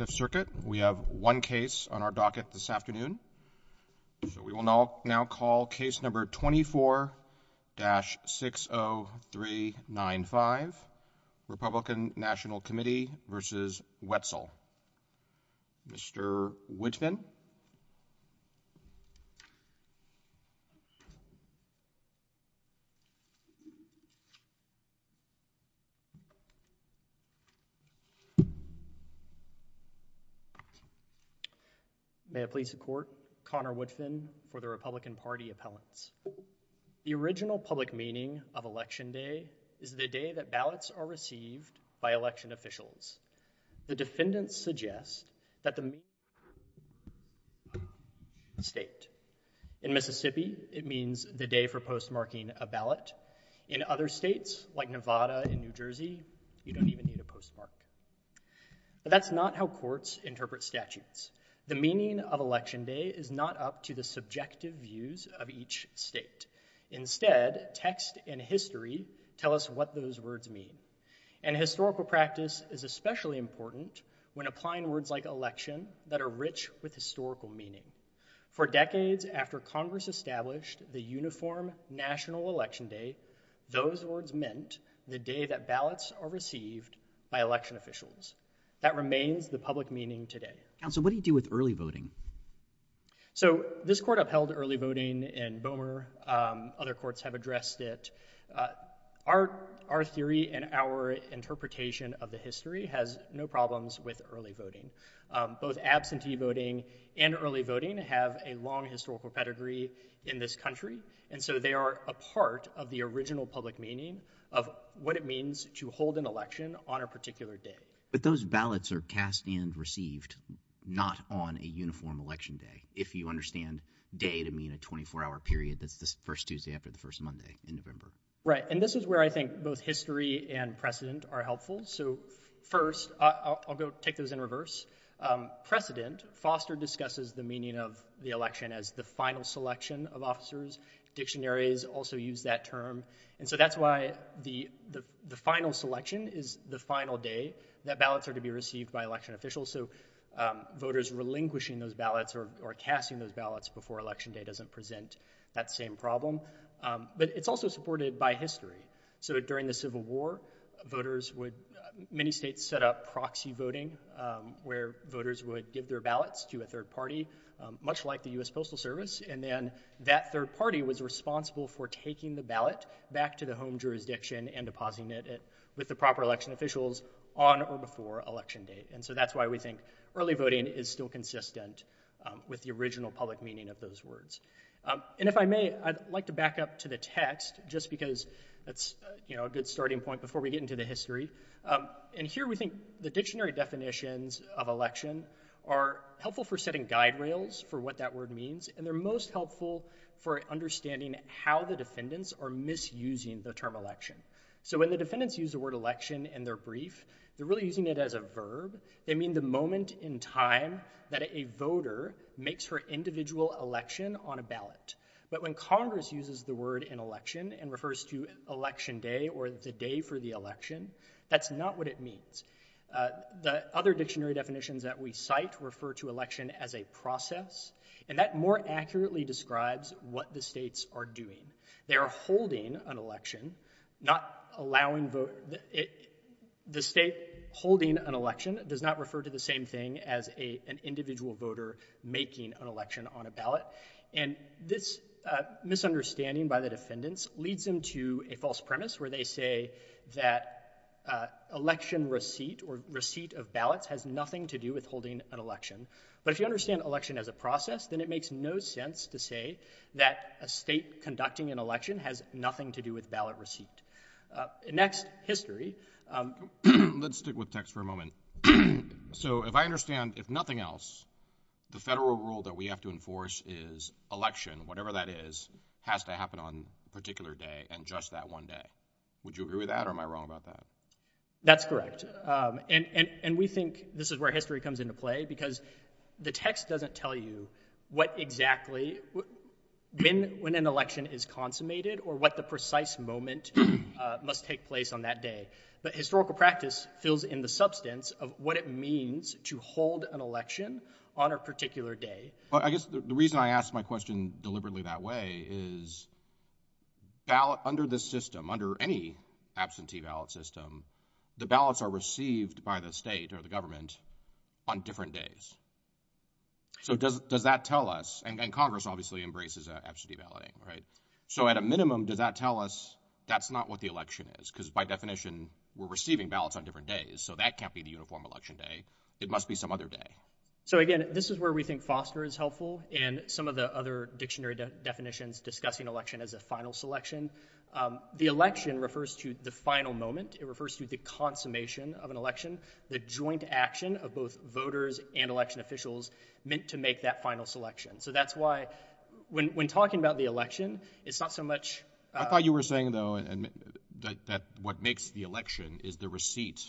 5th Circuit, we have one case on our docket this afternoon. We will now call case number 24-60395, Republican National Committee v. Wetzel. Mr. Woodfin. May it please the Court, Connor Woodfin for the Republican Party Appellants. The original public meaning of Election Day is the day that ballots are received by election officials. The defendants suggest that the meaning of Election Day is a state. In Mississippi, it means the day for postmarking a ballot. In other states, like Nevada and New Jersey, you don't even need a postmark. But that's not how courts interpret statutes. The meaning of Election Day is not up to the subjective views of each state. Instead, text and history tell us what those words mean. And historical practice is especially important when applying words like election that are rich with historical meaning. For decades after Congress established the uniform National Election Day, those words meant the day that ballots are received by election officials. That remains the public meaning today. Counsel, what do you do with early voting? So this court upheld early voting in Bowmer. Other courts have addressed it. Our theory and our interpretation of the history has no problems with early voting. Both absentee voting and early voting have a long historical pedigree in this country, and so they are a part of the original public meaning of what it means to hold an election on a particular day. But those ballots are cast and received not on a uniform Election Day, if you understand day to mean a 24-hour period that's the first Tuesday after the first Monday in November. Right, and this is where I think both history and precedent are helpful. So first I'll go take those in reverse. Precedent foster discusses the meaning of the election as the final selection of officers. Dictionaries also use that term, and so that's why the final selection is the final day that ballots are to be received by election officials. So voters relinquishing those ballots or casting those ballots before Election Day doesn't present that same problem. But it's also supported by history. So during the Civil War, voters would, many states set up proxy voting where voters would give their ballots to a third party, much like the U.S. Postal Service, and then that third party was responsible for taking the ballot back to the home jurisdiction and depositing it with the proper election officials on or before Election Day. And so that's why we think early voting is still consistent with the original public meaning of those words. And if I may, I'd like to back up to the text just because that's, you know, a good starting point before we get into the history. And here we think the dictionary definitions of election are helpful for setting guide rails for what that word means, and they're most helpful for understanding how the defendants are misusing the term election. So when the defendants use the word election in their brief, they're really using it as a verb. They mean the moment in time that a voter makes her individual election on a ballot. But when Congress uses the word in election and refers to Election Day or the day for the election, that's not what it means. The other dictionary definitions that we cite refer to election as a process, and that more accurately describes what the states are doing. They are holding an election, not allowing vote. The state holding an election does not refer to the same thing as an individual voter making an election on a ballot. And this misunderstanding by the defendants leads them to a false premise where they say that election receipt or receipt of ballots has nothing to do with holding an election. But if you understand election as a process, then it makes no sense to say that a state conducting an election has nothing to do with ballot receipt. Next, history. Let's stick with text for a moment. So if I understand, if nothing else, the federal rule that we have to enforce is election, whatever that is, has to happen on a particular day and just that one day. Would you agree with that or am I wrong about that? That's correct. And we think this is where history comes into play, because the text doesn't tell you what exactly, when an election is consummated or what the precise moment must take place on that day. But historical practice fills in the substance of what it means to hold an election on a particular day. I guess the reason I asked my question deliberately that way is, under this system, under any absentee ballot system, the ballots are received by the state or the government on different days. So does that tell us, and Congress obviously embraces absentee balloting, right? So at a minimum, does that tell us that's not what the election is? Because by definition, we're receiving ballots on different days, so that can't be the uniform election day. It must be some other day. So again, this is where we think Foster is helpful, and some of the other dictionary definitions discussing election as a final selection. The election refers to the final moment. It refers to the consummation of an election, the joint action of both voters and election officials, meant to make that final selection. So that's why, when talking about the election, it's not so much... I thought you were saying, though, that what makes the election is the receipt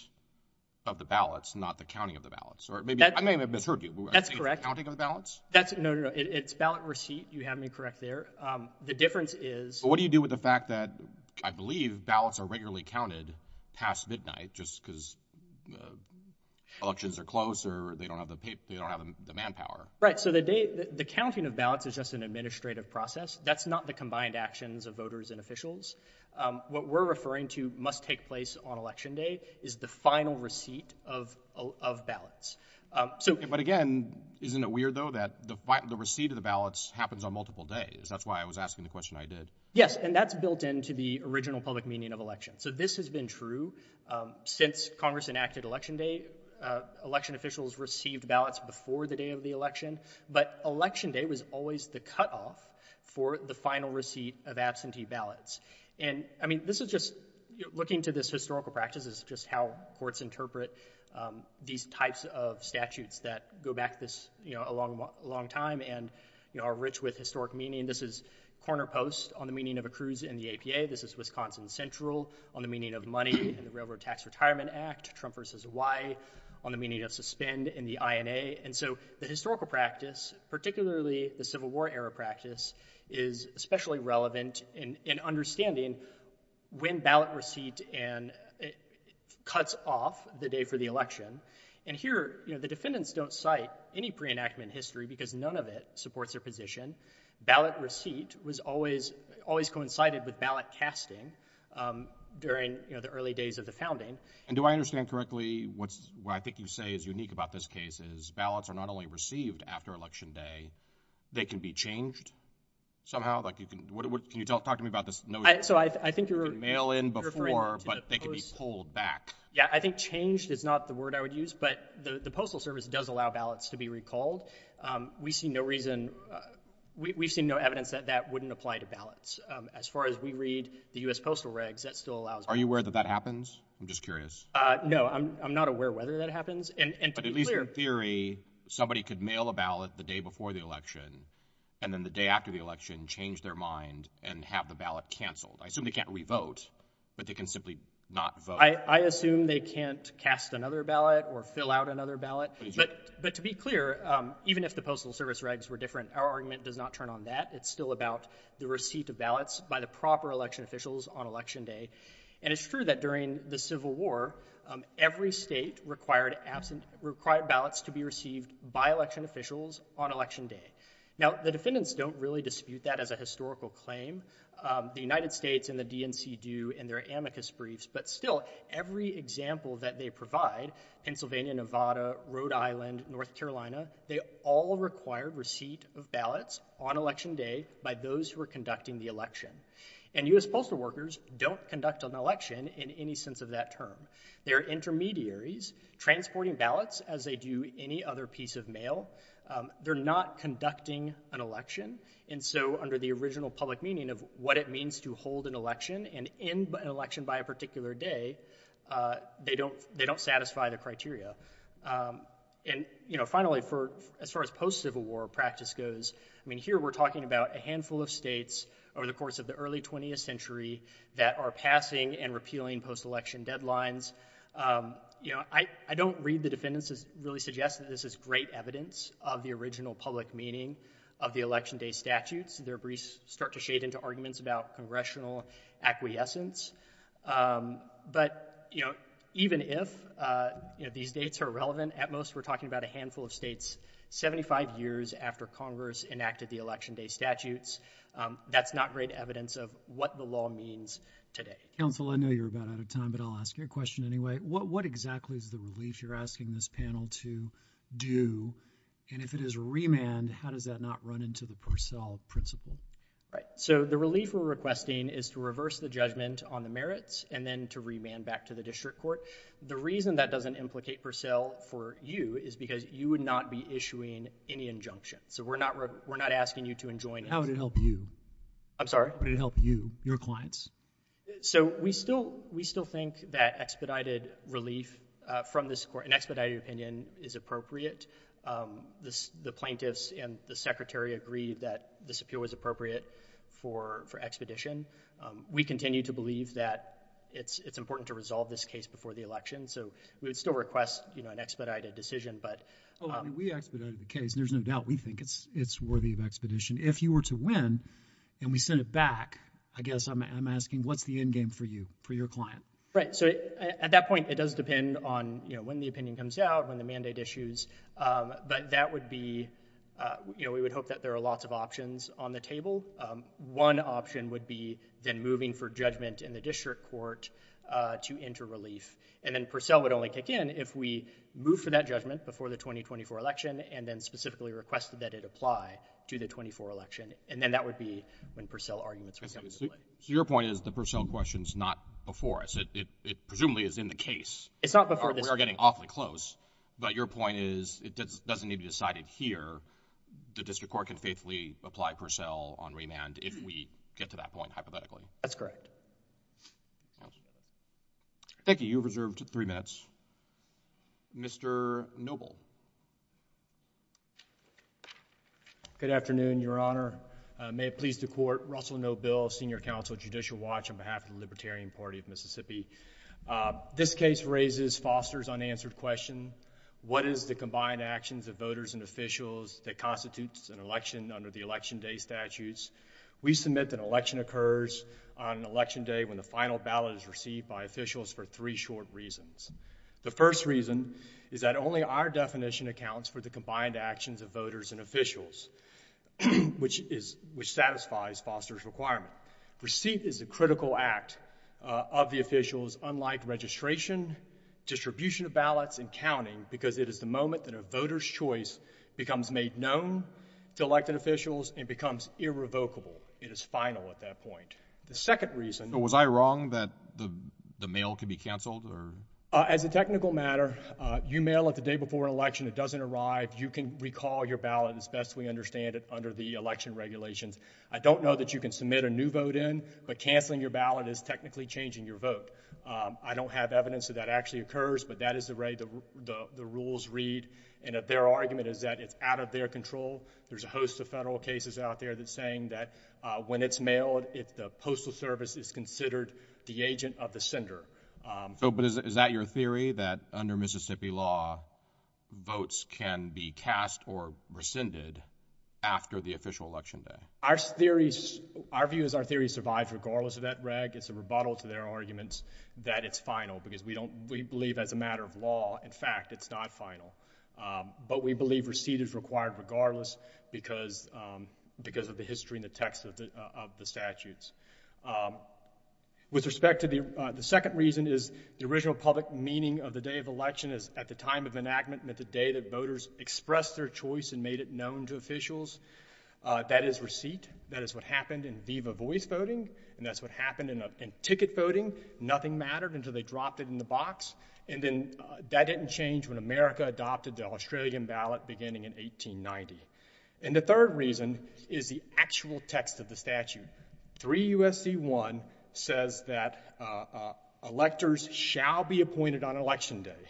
of the ballots, not the counting of the ballots. Or maybe, I may have misheard you. That's correct. Counting of the ballots? That's, no, no, no. It's ballot receipt. You have me correct there. The difference is... What do you do with the fact that, I believe, ballots are regularly counted past midnight, just because elections are closed, or they don't have the manpower? Right. So the counting of ballots is just an administrative process. That's not the combined actions of voters and officials. What we're referring to must take place on election day is the final receipt of ballots. But again, isn't it weird, though, that the receipt of the ballots happens on multiple days? That's why I was asking the question I did. Yes, and that's built into the original public meaning of election. So this has been true. Since Congress enacted election day, election officials received ballots before the day of the election. But election day was always the cutoff for the final receipt of absentee ballots. And, I mean, this is just, looking to this historical practice, this is just how courts interpret these types of statutes that go back this, you know, a long time and, you know, are rich with historic meaning. This is corner post on the meaning of a cruise in the APA. This is Wisconsin Central on the meaning of money and the Railroad Tax Retirement Act. Trump v. Y on the meaning of suspend in the INA. And so the historical practice, particularly the Civil War era practice, is especially relevant in understanding when ballot receipt cuts off the day for the election. And here, you know, the defendants don't cite any pre-enactment history because none of it supports their position. Ballot receipt was always coincided with ballot casting, um, during, you know, the early days of the founding. And do I understand correctly what's, what I think you say is unique about this case is ballots are not only received after election day, they can be changed somehow? Like, you can, what, what, can you tell, talk to me about this? I, so I, I think you're, You can mail in before, You're referring to the, But they can be pulled back. Yeah, I think changed is not the word I would use, but the, the Postal Service does allow ballots to be recalled. Um, we see no reason, uh, we, we've seen no evidence that that wouldn't apply to ballots. Um, as far as we read the U.S. Postal Regs, that still allows, Are you aware that that happens? I'm just curious. Uh, no, I'm, I'm not aware whether that happens and, and, But at least in theory, somebody could mail a ballot the day before the election and then the day after the election change their mind and have the ballot canceled. I assume they can't re-vote, but they can simply not vote. I assume they can't cast another ballot or fill out another ballot, but, but to be clear, um, even if the Postal Service Regs were different, our argument does not turn on that. It's still about the receipt of ballots by the proper election officials on election day. And it's true that during the Civil War, um, every state required absent, required ballots to be received by election officials on election day. Now the defendants don't really dispute that as a historical claim. Um, the United States and the DNC do in their amicus briefs, but still every example that they provide, Pennsylvania, Nevada, Rhode Island, they do not dispute ballots on election day by those who are conducting the election. And U.S. postal workers don't conduct an election in any sense of that term. They're intermediaries transporting ballots as they do any other piece of mail. Um, they're not conducting an election. And so under the original public meaning of what it means to hold an election and end an election by a particular day, uh, they don't, they don't satisfy the criteria. Um, and, you know, finally for, as far as post-Civil War practice goes, I mean, here we're talking about a handful of states over the course of the early 20th century that are passing and repealing post-election deadlines. Um, you know, I, I don't read the defendants as really suggest that this is great evidence of the original public meaning of the election day statutes. Their briefs start to shade into arguments about congressional acquiescence. Um, but you know, even if, uh, you know, these dates are relevant at most, we're talking about a handful of states 75 years after Congress enacted the election day statutes. Um, that's not great evidence of what the law means today. Counselor, I know you're about out of time, but I'll ask you a question anyway. What, what exactly is the relief you're asking this panel to do? And if it is remand, how does that not run into the Purcell principle? Right. So the relief we're requesting is to reverse the judgment on the merits and then to remand back to the district court. The reason that doesn't implicate Purcell for you is because you would not be issuing any injunction. So we're not, we're not asking you to enjoin. How would it help you? I'm sorry. Would it help you, your clients? So we still, we still think that expedited relief, uh, from this court, an expedited opinion is appropriate. Um, this, the plaintiffs and the secretary agreed that this appeal was appropriate for, for expedition. Um, we continue to believe that it's, it's important to resolve this case before the election. So we would still request, you know, an expedited decision, but, um, we expedited the case and there's no doubt we think it's, it's worthy of expedition. If you were to win and we send it back, I guess I'm, I'm asking, what's the end game for you, for your client? Right. So at that point it does depend on, you know, when the opinion comes out, when the mandate issues, um, but that would be, uh, you know, we would hope that there are lots of options on the table. Um, one option would be then moving for judgment in the district court, uh, to enter relief. And then Purcell would only kick in if we move for that judgment before the 2024 election, and then specifically requested that it apply to the 24 election. And then that would be when Purcell arguments. So your point is the Purcell question's not before us. It, it, it presumably is in the case. It's not before this court. We are getting awfully close, but your point is it doesn't need to be decided here. The district court can faithfully apply Purcell on remand if we get to that point, hypothetically. That's correct. Thank you. You have reserved three minutes. Mr. Noble. Good afternoon, Your Honor. May it please the Court. Russell Noble, Senior Counsel, Judicial Watch on behalf of the Libertarian Party of Mississippi. Uh, this case raises Foster's unanswered question. What is the combined actions of voters and officials that constitutes an election under the Election Day statutes? We submit that election occurs on Election Day when the final ballot is received by officials for three short reasons. The first reason is that only our definition accounts for the combined actions of voters and officials, which is, which satisfies Foster's requirement. Receipt is a critical act, uh, of the officials, unlike registration, distribution of ballots, and counting, because it is the moment that a voter's choice becomes made known to elected officials and becomes irrevocable. It is final at that point. The second reason was I wrong that the mail could be canceled or as a technical matter, you mail it the day before election. It doesn't arrive. You can recall your ballot as best we understand it under the election regulations. I don't know that you can submit a new vote in, but canceling your ballot is technically changing your vote. I don't have evidence that that actually occurs, but that is the way the rules read. And if their argument is that it's out of their control, there's a host of federal cases out there that saying that when it's mailed, if the Postal Service is considered the agent of the sender. So, but is that your theory that under Mississippi law, votes can be cast or rescinded after the official Election Day? Our theories, our view is our theory survives regardless of that reg. It's a rebuttal to their arguments that it's final, because we don't, we believe as a matter of law, in fact, it's not final. But we believe receipt is required regardless, because of the history and the text of the statutes. With respect to the second reason is the original public meaning of the day of election is at the time of enactment meant the day that voters expressed their choice and made it known to officials. That is receipt. That is what happened in VIVA voice voting, and that's what happened in ticket voting. Nothing mattered until they opted in the box, and then that didn't change when America adopted the Australian ballot beginning in 1890. And the third reason is the actual text of the statute. 3 U.S.C. 1 says that electors shall be appointed on Election Day.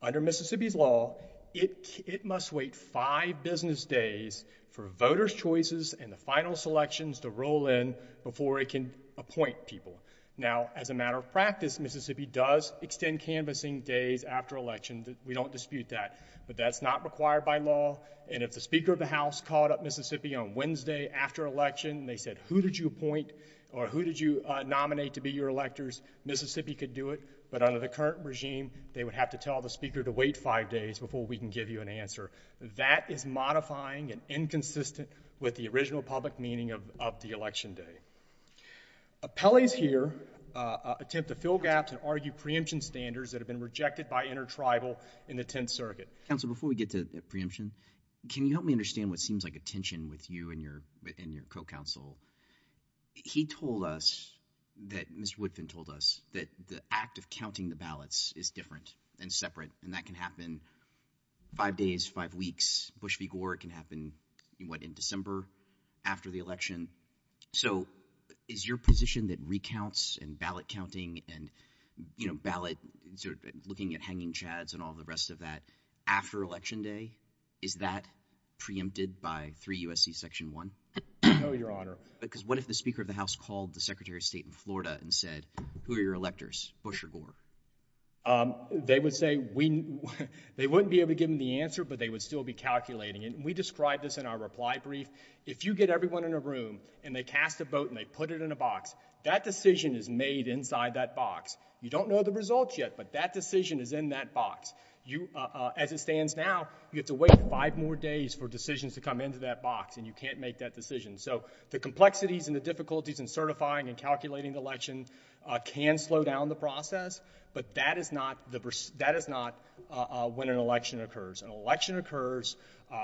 Under Mississippi's law, it, it must wait five business days for voters choices and the final selections to roll in before it can appoint people. Now, as a matter of practice, Mississippi does extend canvassing days after election. We don't dispute that, but that's not required by law, and if the Speaker of the House called up Mississippi on Wednesday after election, they said, who did you appoint or who did you nominate to be your electors? Mississippi could do it, but under the current regime, they would have to tell the Speaker to wait five days before we can give you an answer. That is modifying and inconsistent with the original public meaning of the Election Day. Appellees here attempt to fill gaps and argue preemption standards that have been rejected by intertribal in the Tenth Circuit. Counsel, before we get to preemption, can you help me understand what seems like a tension with you and your, and your co-counsel? He told us that, Mr. Woodfin told us, that the act of counting the ballots is different and separate, and that can happen five days, five weeks. Bush v. Gore can happen, what, in December after the election. So, is your position that recounts and ballot counting and, you know, ballot, looking at hanging chads and all the rest of that after Election Day, is that preempted by 3 U.S.C. Section 1? No, Your Honor. Because what if the Speaker of the House called the Secretary of State in Florida and said, who are your electors, Bush or Gore? They would say, we, they wouldn't be able to give them the answer, but they would still be calculating. And we described this in our reply brief. If you get everyone in a room and they cast a vote and they put it in a box, that decision is made inside that box. You don't know the results yet, but that decision is in that box. You, as it stands now, you have to wait five more days for decisions to come into that box, and you can't make that decision. So, the complexities and the difficulties in certifying and calculating the election can slow down the process, but that is not the, that is not when an election occurs. An election occurs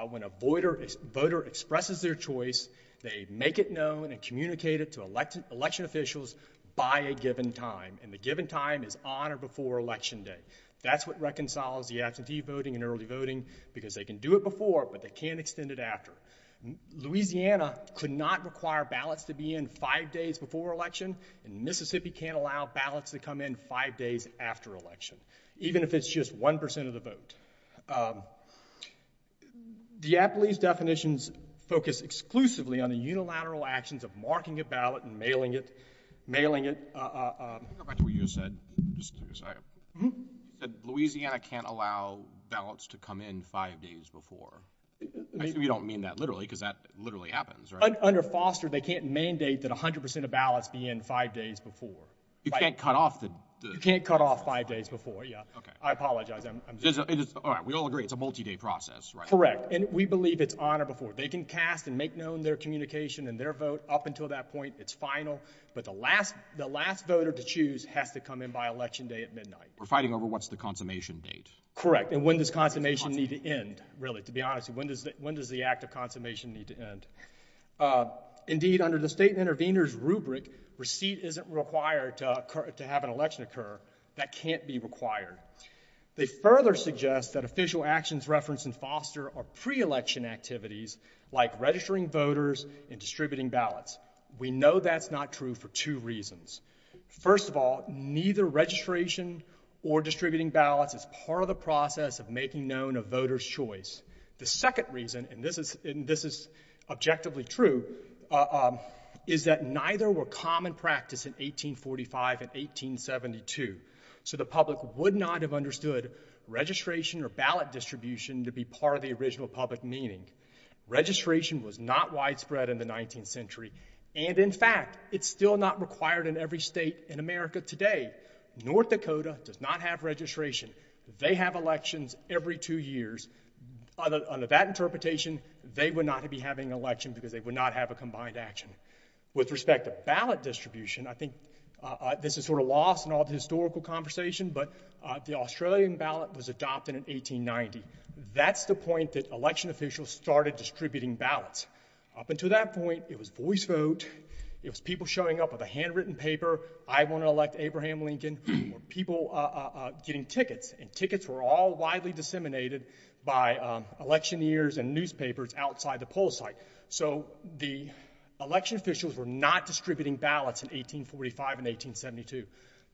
when a voter, a voter expresses their choice. They make it known and communicate it to elected, election officials by a given time, and the given time is on or before Election Day. That's what reconciles the absentee voting and early voting, because they can do it before, but they can't extend it after. Louisiana could not require ballots to be in five days before election, and Mississippi can't allow ballots to come in five days after election, even if it's just 1% of the vote. DiApoli's definitions focus exclusively on the unilateral actions of marking a ballot and mailing it, mailing it. Louisiana can't allow ballots to come in five days before. We don't mean that literally, because that literally happens, right? Under Foster, they can't mandate that 100% of ballots be in five days before. You can't cut off the... You can't cut off five days before, yeah. I apologize, I'm... Alright, we all agree it's a multi-day process, right? Correct, and we believe it's on or before. They can cast and make known their communication and their vote up until that point. It's final, but the last, the last voter to choose has to come in by Election Day at midnight. We're fighting over what's the consummation date. Correct, and when does consummation need to end, really, to be honest? When does, when does the act of consummation need to end? Indeed, under the State Intervenors rubric, receipt isn't required to have an election occur. That can't be required. They further suggest that official actions referenced in Foster are pre-election activities like registering voters and distributing ballots. We know that's not true for two reasons. First of all, neither registration or distributing ballots is part of the process of making known a voter's choice. The second reason, and this is, and this is objectively true, is that neither were common practice in 1845 and 1872, so the public would not have understood registration or ballot distribution to be part of the original public meeting. Registration was not widespread in the 19th century, and in fact, it's still not required in every state in America today. North Dakota does not have registration. They have elections every two years. Under that interpretation, they would not be having an election because they would not have a combined action. With respect to ballot distribution, I think this is sort of lost in all the historical conversation, but the Australian ballot was adopted in 1890. That's the point that election officials started distributing ballots. Up until that point, it was voice vote. It was people showing up with a handwritten paper, I want to Abraham Lincoln, or people getting tickets, and tickets were all widely disseminated by electioneers and newspapers outside the poll site. So, the election officials were not distributing ballots in 1845 and 1872.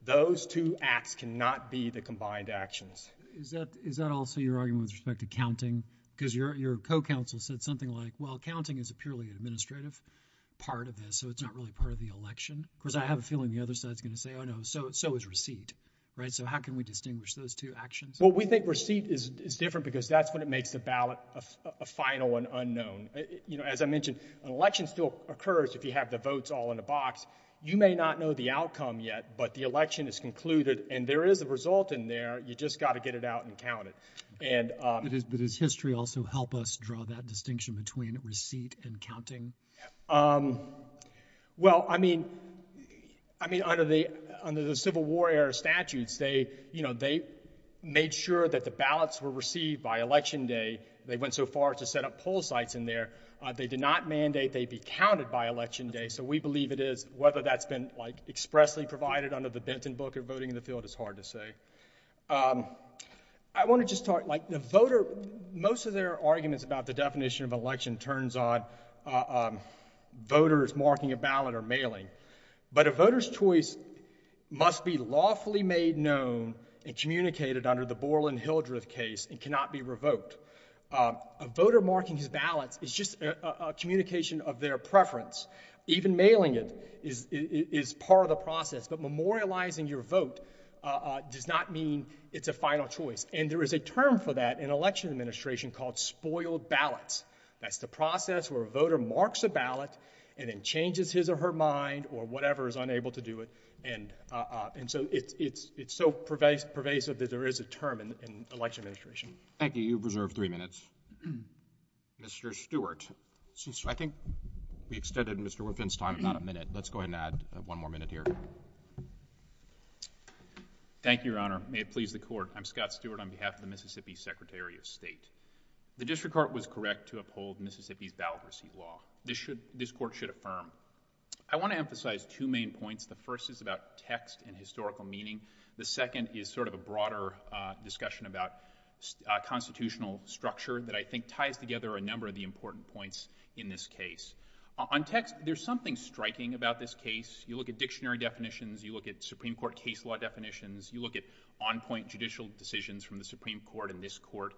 Those two acts cannot be the combined actions. Is that, is that also your argument with respect to counting? Because your co-counsel said something like, well, counting is a purely administrative part of this, so it's not really part of the election. Of course, I have a feeling the other side is going to say, oh no, so, so is receipt, right? So, how can we distinguish those two actions? Well, we think receipt is different because that's when it makes the ballot a final and unknown. You know, as I mentioned, an election still occurs if you have the votes all in a box. You may not know the outcome yet, but the election is concluded, and there is a result in there. You just got to get it out and count it. And... But does history also help us draw that distinction between receipt and counting? Well, I mean, I mean, under the, under the Civil War era statutes, they, you know, they made sure that the ballots were received by Election Day. They went so far as to set up poll sites in there. They did not mandate they be counted by Election Day, so we believe it is. Whether that's been, like, expressly provided under the Benton Book of Voting in the field is hard to say. I want to just talk, like, the voter, most of their arguments about the definition of election turns on voters marking a ballot or mailing, but a voter's choice must be lawfully made known and communicated under the Borland-Hildreth case and cannot be revoked. A voter marking his ballots is just a communication of their preference. Even mailing it is, is part of the process, but memorializing your vote does not mean it's a final choice, and there is a term for that in election administration called spoiled ballots. That's the process where a voter marks a ballot and then changes his or her mind or whatever is unable to do it, and, uh, and so it's, it's, it's so pervasive, pervasive that there is a term in, in election administration. Thank you. You've reserved three minutes. Mr. Stewart, since I think we extended Mr. Woodfin's time about a minute, let's go ahead and add one more minute here. Thank you, Your Honor. May it please the Court. I'm Scott Stewart on behalf of the Mississippi Secretary of State. The district court was correct to uphold Mississippi's ballot receipt law. This should, this Court should affirm. I want to emphasize two main points. The first is about text and historical meaning. The second is sort of a broader, uh, discussion about, uh, constitutional structure that I think ties together a number of the important points in this case. On text, there's something striking about this case. You look at dictionary definitions, you look at Supreme Court case law definitions, you look at on-point judicial decisions from the Supreme Court and this Court.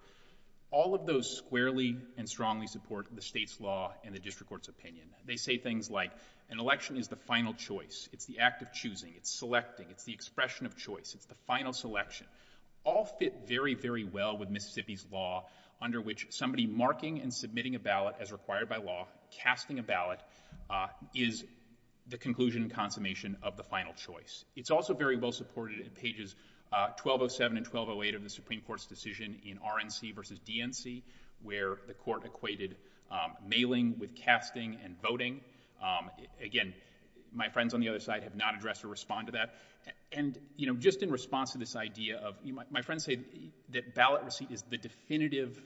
All of those squarely and strongly support the state's law and the district court's opinion. They say things like, an election is the final choice. It's the act of choosing. It's selecting. It's the expression of choice. It's the final selection. All fit very, very well with Mississippi's law under which somebody marking and submitting a ballot as required by law, casting a ballot, uh, is the conclusion and consummation of the final choice. It's also very well supported in pages, uh, 1207 and 1208 of the Supreme Court's decision in RNC versus DNC, where the court equated, um, mailing with casting and voting. Um, again, my friends on the other side have not addressed or respond to that. And, you know, just in response to this idea of, you might, my friends say that ballot receipt is the definitive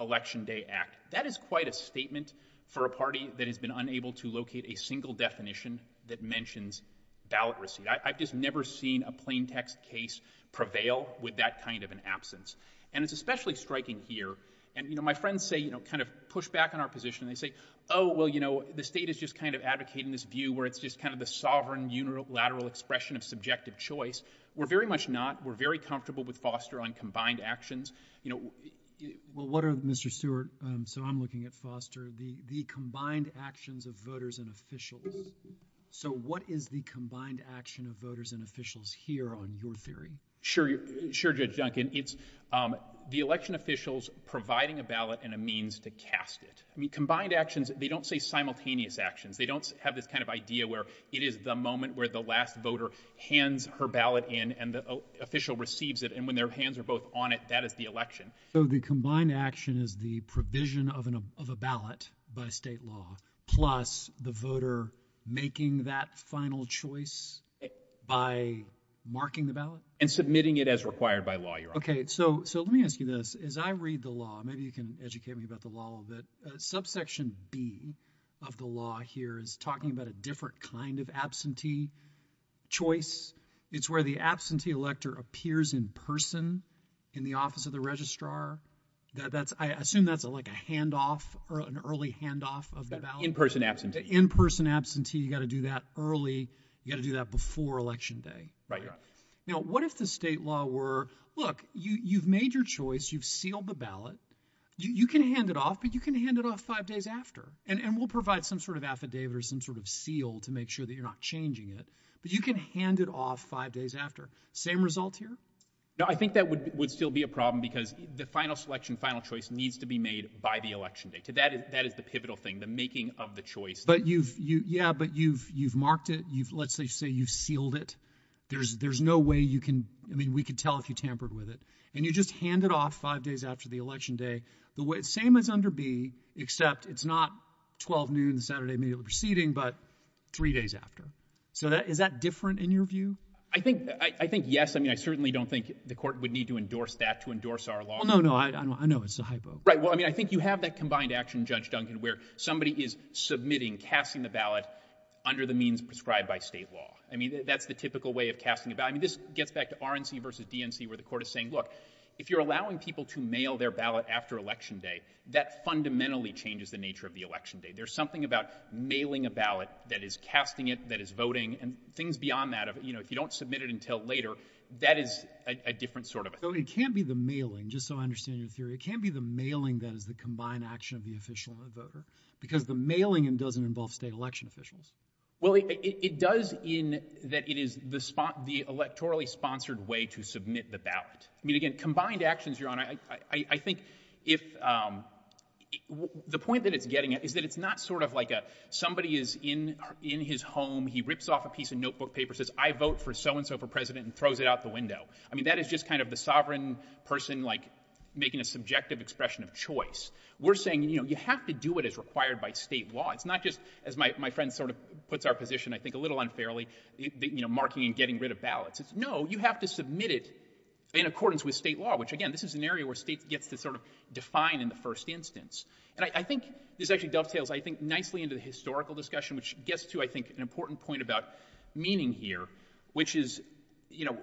election day act. That is quite a statement for a party that has been unable to locate a single definition that mentions ballot receipt. I've just never seen a plain text case prevail with that kind of an absence. And it's especially striking here. And, you know, my friends say, you know, kind of push back on our position. They say, Oh, well, you know, the state is just kind of advocating this view where it's just kind of the sovereign unilateral expression of subjective choice. We're very much not. We're very comfortable with Foster on combined actions. You know, well, what are Mr Stewart? Um, so I'm looking at Foster, the combined actions of voters and officials. So what is the combined action of voters and officials here on your theory? Sure. Sure. Judge Duncan, it's, um, the election officials providing a ballot and a means to cast it. I mean, combined actions. They don't say simultaneous actions. They don't have this kind of idea where it is the moment where the last voter hands her ballot in and the official receives it. And when their hands are both on it, that is the election. So the combined action is the provision of a ballot by state law, plus the voter making that final choice by marking the ballot and submitting it as required by law. You're okay. So So let me ask you this is I read the law. Maybe you can educate me about the law that subsection B of the law here is talking about a different kind of absentee choice. It's where the absentee elector appears in person in the office of the registrar that that's assume that's like a handoff or an early handoff of in person absentee in person absentee. You gotta do that early. You gotta do that before Election Day. Now, what if the state law were Look, you've made your choice. You've sealed the ballot. You can hand it off, but you can hand it off five days after, and we'll provide some sort of affidavit or some sort of seal to make sure that you're not changing it. But you can hand it off five days after same result here. I think that would still be a problem because the final selection, final choice needs to be made by the election day to that. That is the pivotal thing. The making of the choice. But you've Yeah, but you've you've marked it. You've let's say you've sealed it. There's there's no way you can. I mean, we could tell if you tampered with it and you just hand it off five days after the election day the way it's same as under B, except it's not 12 noon Saturday, immediately proceeding, but three days after. So that is that different in your view? I think I think yes. I mean, I certainly don't think the court would need to endorse that to endorse our law. No, no, I know it's a hypo. Right? Well, I mean, I think you have that combined action, Judge Duncan, where somebody is submitting, casting the ballot under the means prescribed by state law. I mean, that's the typical way of casting about. I mean, this gets back to RNC versus DNC, where the court is saying, Look, if you're allowing people to mail their ballot after Election Day, that fundamentally changes the nature of the election day. There's something about mailing a ballot that is casting it that is voting and things beyond that. You know, if you don't submit it until later, that is a different sort of It can't be the mailing, just so I understand your theory. It can't be the mailing that is the combined action of the official and the voter because the mailing and doesn't involve state election officials. Well, it does in that it is the spot, the electorally sponsored way to submit the ballot. I mean, again, combined actions you're on. I think if, um, the point that it's getting is that it's not sort of like a somebody is in in his home. He rips off a piece of notebook paper, says I vote for so and so for president and throws it out the window. I mean, that is just kind of the sovereign person, like making a subjective expression of choice. We're saying, you know, you have to do it is required by state law. It's not just as my friend sort of puts our position, I think a little unfairly, you know, marking and getting rid of ballots. It's no, you have to submit it in accordance with state law, which again, this is an area where states gets to sort of define in the first instance. And I think this actually dovetails, I think, nicely into the historical discussion, which gets to, I think, an important point about meaning here, which is, you know,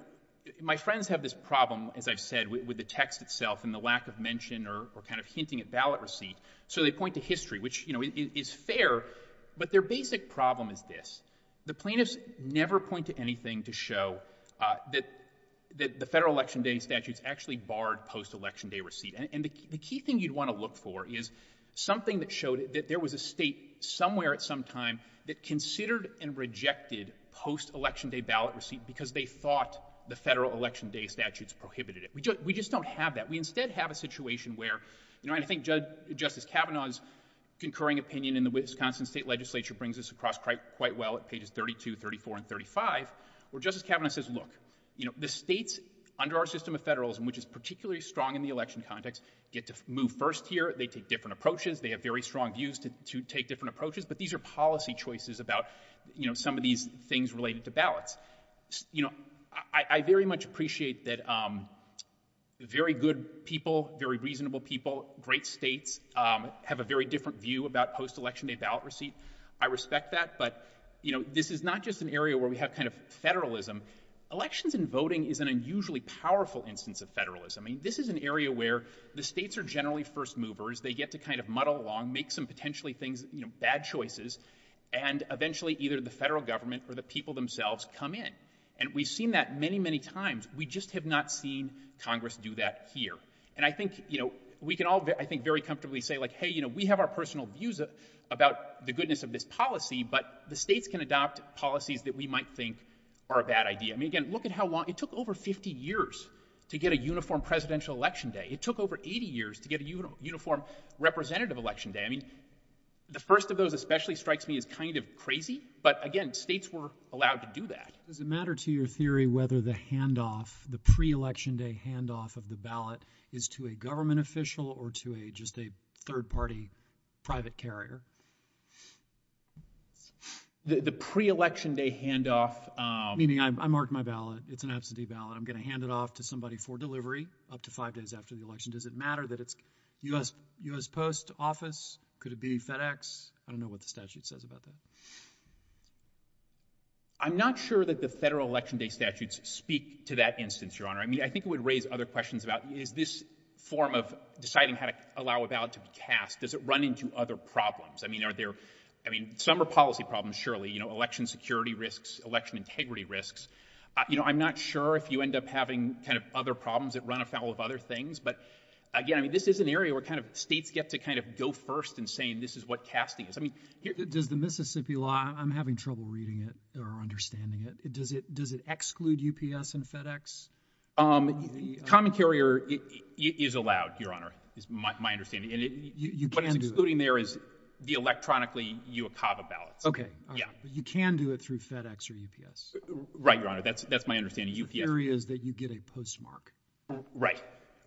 my friends have this problem, as I've said, with the text itself and the lack of mention or kind of hinting at ballot receipt. So they point to history, which, you know, is fair, but their basic problem is this. The plaintiffs never point to anything to show, uh, that the federal election day statutes actually barred post election day receipt. And the key thing you'd want to look for is something that showed that there was a state somewhere at some time that considered and rejected post election day ballot receipt because they thought the federal election day statutes prohibited it. We just, we just don't have that. We instead have a situation where, you know, and I think Judge Justice Kavanaugh's concurring opinion in the Wisconsin state legislature brings us across quite well at pages 32, 34 and 35, where Justice Kavanaugh says, look, you know, the states under our system of federalism, which is particularly strong in the election context, get to move first here. They take different approaches. They have very strong views to take different approaches, but these are policy choices about, you know, some of these things related to ballots. You know, I, I very much appreciate that, um, very good people, very reasonable people, great states, um, have a very different view about post election day ballot receipt. I respect that, but you know, this is not just an area where we have kind of federalism. Elections and voting is an unusually powerful instance of federalism. I mean, this is an area where the states are generally first movers. They get to kind of muddle along, make some potentially things, you know, bad choices, and eventually either the federal government or the people themselves come in. And we've seen that many, many times. We just have not seen Congress do that here. And I think, you know, we can all, I think, very comfortably say like, hey, you know, we have our personal views about the goodness of this policy, but the states can adopt policies that we might think are a bad idea. I mean, again, look at how long, it took over 50 years to get a uniform presidential election day. It took over 80 years to get a uniform representative election day. I mean, the first of those especially strikes me as kind of crazy, but again, states were allowed to do that. Does it matter to your theory whether the handoff, the pre-election day handoff of the ballot is to a government official or to a, just a third party private carrier? The pre-election day handoff, um... Meaning I marked my ballot, it's an absentee ballot. I'm going to hand it off to somebody for delivery up to five days after the election. Does it matter that it's U.S., U.S. Post Office? Could it be FedEx? I don't know what the statute says about that. I'm not sure that the federal election day statutes speak to that instance, Your Honor. I mean, I think it would raise other questions about is this form of deciding how to allow a ballot to be cast, does it run into other problems? I mean, are there, I mean, some are policy problems, surely, you know, election security risks, election integrity risks. Uh, you know, I'm not sure if you end up having kind of other problems that run afoul of other things. But again, I mean, this is an area where kind of states get to kind of go first and saying this is what casting is. I mean, here... Does the Mississippi law, I'm having trouble reading it or understanding it. Does it, does it exclude UPS and FedEx? Um, common carrier is allowed, Your Honor, is my, my understanding. And what it's excluding there is the electronically UOCAVA ballots. Okay. You can do it through FedEx or UPS. Right, Your Honor. That's, that's my understanding. UPS... The theory is that you get a postmark. Right,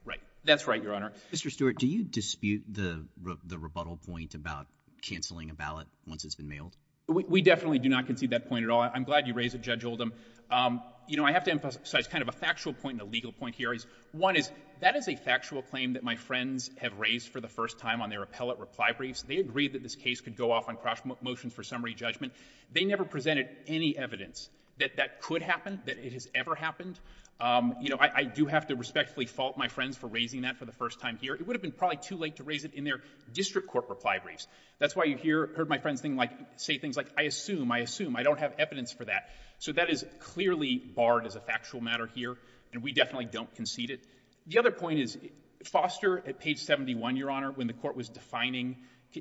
right. That's right, Your Honor. Mr. Stewart, do you dispute the rebuttal point about canceling a ballot once it's been mailed? We definitely do not concede that point at all. I'm glad you raised it, Judge Oldham. Um, you know, I have to emphasize kind of a factual point and a legal point here is one is that is a factual claim that my friends have raised for the first time on their appellate reply briefs. They agreed that this case could go off on cross motions for summary judgment. They never presented any evidence that that could happen, that it has ever happened. Um, you know, I do have to respectfully fault my friends for raising that for the first time here. It would have been probably too late to raise it in their district court reply briefs. That's why you hear, heard my friends thing like, say things like, I assume, I assume I don't have evidence for that. So that is clearly barred as a factual matter here and we definitely don't concede it. The other point is Foster at page 71, Your Honor, when the court was defining,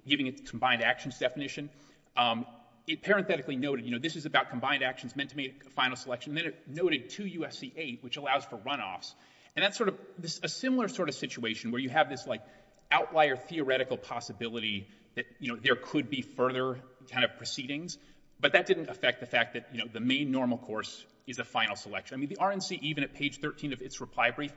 giving a combined actions definition, um, it parenthetically noted, you know, this is about combined actions meant to make a final selection. Then it noted 2 U.S.C. 8, which allows for runoffs. And that's sort of a similar sort of situation where you have this like outlier theoretical possibility that, you know, there could be further kind of proceedings. But that didn't affect the fact that, you know, the main normal course is a final selection. I mean, the RNC, even at page 13 of its reply brief,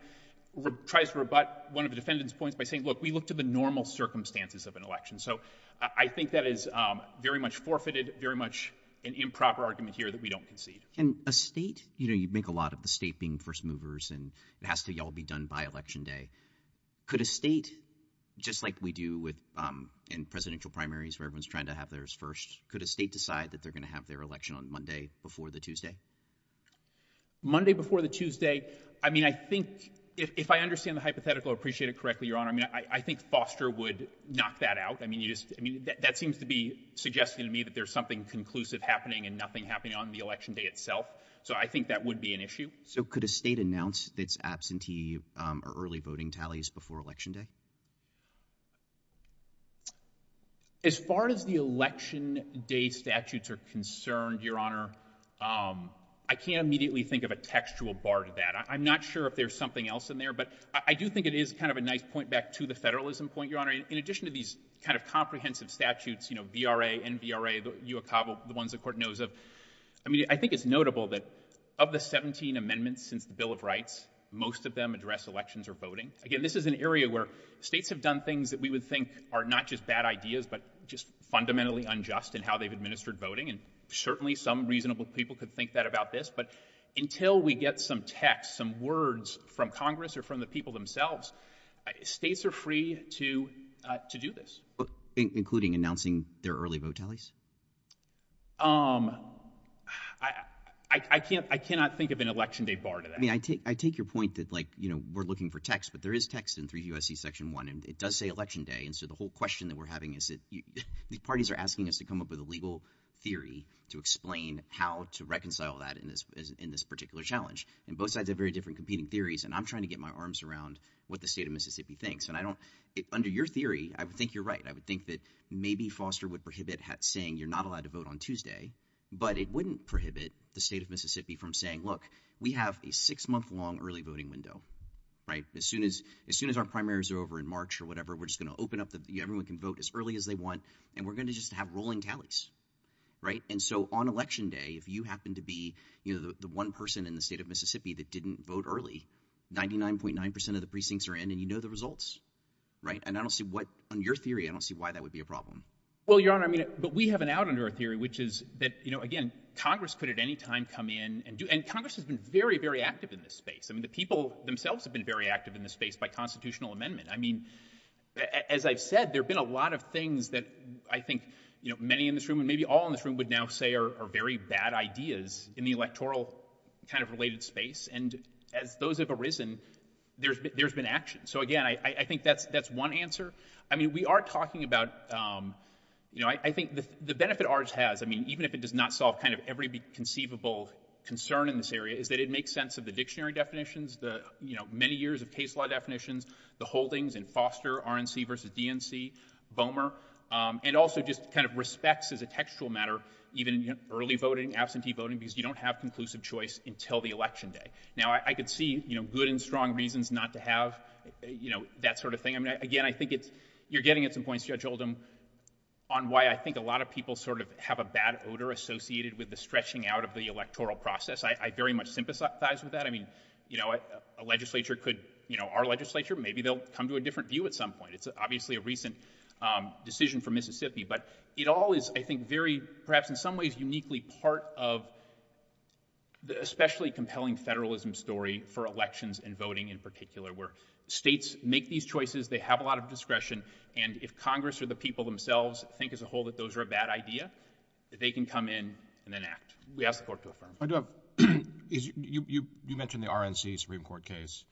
tries to rebut one of the defendant's points by saying, look, we look to the normal circumstances of an election. So I think that is very much forfeited, very much an improper argument here that we don't concede. And a state, you know, you make a lot of the state being first movers and it has to be all be done by election day. Could a state, just like we do with, um, in presidential primaries where everyone's trying to have theirs first, could a state decide that they're going to have their election on Monday before the Tuesday? Monday before the Tuesday. I mean, I think if I understand the hypothetical appreciated correctly, Your Honor, I think Foster would knock that out. I mean, you just I mean, that seems to be suggesting to me that there's something conclusive happening and nothing happening on the election day itself. So I think that would be an issue. So could a state announce its absentee or early voting tallies before election day? As far as the election day statutes are concerned, Your Honor, um, I can't immediately think of a textual bar to that. I'm not sure if there's something else in there, but I do think it is kind of a nice point back to the federalism point, Your Honor. In addition to these kind of comprehensive statutes, you know, B. R. A. N. B. R. A. The ones the court knows of. I mean, I think it's notable that of the 17 amendments since the Bill of Rights, most of them address elections or voting again. This is an area where states have done things that we would think are not just bad ideas, but just fundamentally unjust and how they've administered voting. And certainly some reasonable people could think that about this. But until we get some text, some words from Congress or from the people themselves, states are free to do this, including announcing their early vote tallies. Um, I can't. I cannot think of an election day bar. I mean, I take I take your point that, like, you know, we're looking for text, but there is text in three U. S. C. Section one, and it does say election day. And so the whole question that we're having is that the parties are asking us to come up with a legal theory to explain how to reconcile that in this in this particular challenge. And both sides are very different competing theories, and I'm trying to get my arms around what the state of Mississippi thinks. And I think maybe Foster would prohibit saying you're not allowed to vote on Tuesday, but it wouldn't prohibit the state of Mississippi from saying, Look, we have a six month long early voting window, right? As soon as as soon as our primaries are over in March or whatever, we're just gonna open up. Everyone can vote as early as they want, and we're gonna just have rolling tallies, right? And so on Election Day, if you happen to be, you know, the one person in the state of Mississippi that didn't vote early 99.9% of the precincts are in, and you know the results, right? And I don't see what on your theory. I don't see why that would be a problem. Well, Your Honor, I mean, but we have an out under a theory, which is that, you know, again, Congress could at any time come in and do, and Congress has been very, very active in this space. I mean, the people themselves have been very active in the space by constitutional amendment. I mean, as I've said, there have been a lot of things that I think, you know, many in this room and maybe all in this room would now say are very bad ideas in the electoral kind of related space. And as those have arisen, there's been action. So again, I think that's that's one answer. I mean, we are talking about, um, you know, I think the benefit ours has, I mean, even if it does not solve kind of every conceivable concern in this area, is that it makes sense of the dictionary definitions, the, you know, many years of case law definitions, the holdings in Foster, RNC versus DNC, Bowmer, and also just kind of respects as a textual matter, even early voting, absentee voting, because you don't have conclusive choice until the Election Day. Now I could see, you know, good and strong reasons not to have, you know, that sort of thing. I mean, again, I think it's, you're getting at some points, Judge Oldham, on why I think a lot of people sort of have a bad odor associated with the stretching out of the electoral process. I very much sympathize with that. I mean, you know, a legislature could, you know, our legislature, maybe they'll come to a different view at some point. It's obviously a recent decision for Mississippi, but it all is, I think, very perhaps in some ways uniquely part of the especially compelling federalism story for elections and voting in particular, where states make these choices, they have a lot of discretion, and if Congress or the people themselves think as a whole that those are a bad idea, that they can come in and then act. We ask the court to affirm. I do have, you mentioned the RNC Supreme Court case.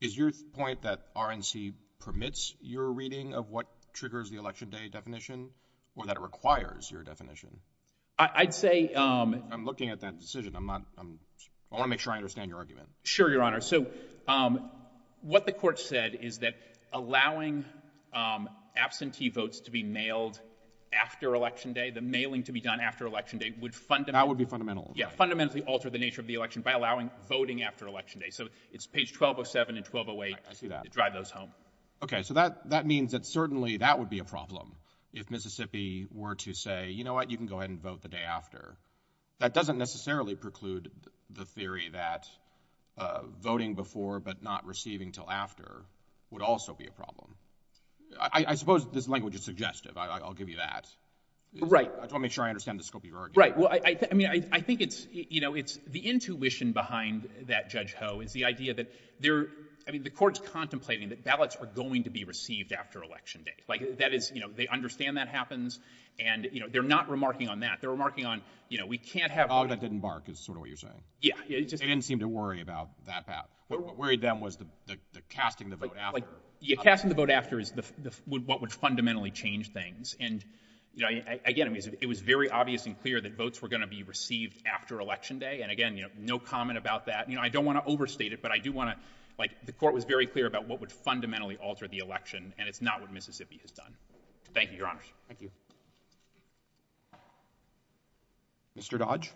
Is your point that RNC permits your reading of what triggers the Election Day definition, or that it requires your definition? I'd say... I'm looking at that decision. I'm not, I want to make sure I understand your Sure, Your Honor. So, um, what the court said is that allowing, um, absentee votes to be mailed after Election Day, the mailing to be done after Election Day would fundamentally... That would be fundamental. Yeah. Fundamentally alter the nature of the election by allowing voting after Election Day. So it's page 1207 and 1208 to drive those home. Okay. So that, that means that certainly that would be a problem if Mississippi were to say, you know what, you can go ahead and vote the day after. That doesn't necessarily preclude the theory that, uh, voting before, but not receiving till after would also be a problem. I, I suppose this language is suggestive. I'll give you that. I just want to make sure I understand the scope of your argument. Right. Well, I, I mean, I, I think it's, you know, it's the intuition behind that Judge Ho is the idea that there, I mean, the court's contemplating that ballots are going to be received after Election Day. Like that is, you know, they understand that happens and, you know, they're not remarking on that. They're remarking on, you know, we can't have all that didn't bark is sort of what you're saying. Yeah. It didn't seem to worry about that path. What worried them was the, the, the casting the vote after you're casting the vote after is the, the, what would fundamentally change things. And again, I mean, it was very obvious and clear that votes were going to be received after Election Day. And again, you know, no comment about that. You know, I don't want to overstate it, but I do want to, like the court was very clear about what would fundamentally alter the election and it's not what Mississippi has done. Thank you, Your Honor. Mr. Dodge.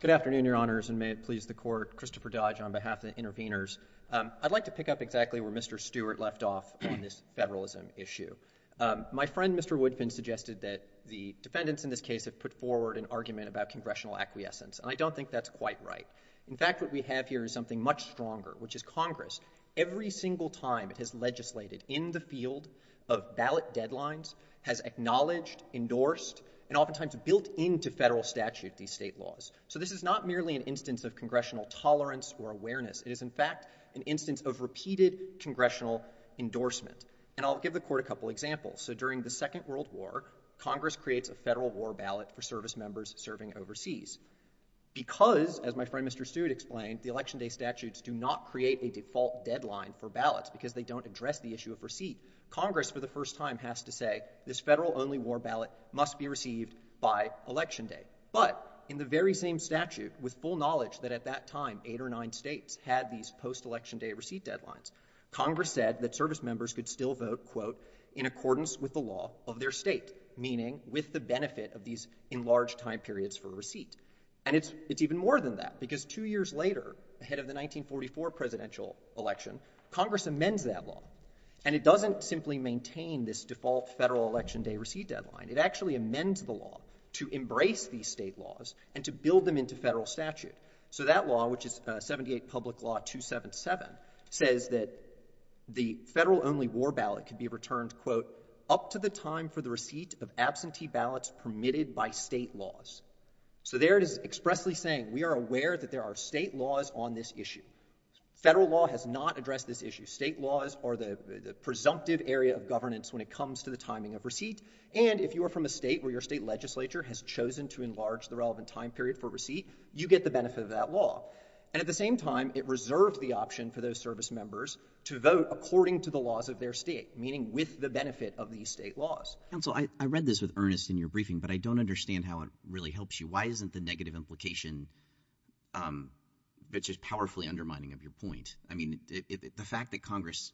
Good afternoon, Your Honors, and may it please the court. Christopher Dodge on behalf of the interveners. Um, I'd like to pick up exactly where Mr. Stewart left off on this federalism issue. Um, my friend, Mr. Woodfin, suggested that the defendants in this case have put forward an argument about congressional acquiescence, and I don't think that's quite right. In fact, what we have here is something much stronger, which is Congress, every single time it has legislated in the field of ballot deadlines, has acknowledged, endorsed, and oftentimes built into federal statute these state laws. So this is not merely an instance of congressional tolerance or awareness. It is, in fact, an instance of repeated congressional endorsement. And I'll give the court a couple examples. So during the Second World War, Congress creates a federal war ballot for service members serving overseas. Because, as my friend Mr. Stewart explained, the Election Day statutes do not create a default deadline for ballots, because they don't address the issue of receipt. Congress, for the first time, has to say, this federal only war ballot must be received by Election Day. But, in the very same statute, with full knowledge that at that time, eight or nine states had these post-Election Day receipt deadlines, Congress said that service members could still vote, quote, in accordance with the law of their state. Meaning, with the benefit of these enlarged time periods for receipt. And it's, it's even more than that, because two years later, ahead of the 1944 presidential election, Congress amends that law. And it doesn't simply maintain this default federal Election Day receipt deadline. It actually amends the law to embrace these state laws and to build them into federal statute. So that law, which is 78 Public Law 277, says that the federal only war ballot can be returned, quote, up to the time for the receipt of absentee ballots permitted by state laws. So there it is expressly saying, we are aware that there are state laws on this issue. Federal law has not addressed this issue. State laws are the presumptive area of governance when it comes to the timing of receipt. And if you are from a state where your state legislature has chosen to enlarge the relevant time period for receipt, you get the benefit of that law. And at the same time, it reserved the option for those service members to vote according to the laws of their state. Meaning, with the benefit of these state laws. Counsel, I read this with earnest in your briefing, but I don't understand how it really helps you. Why isn't the negative implication, which is powerfully undermining of your point, I mean, the fact that Congress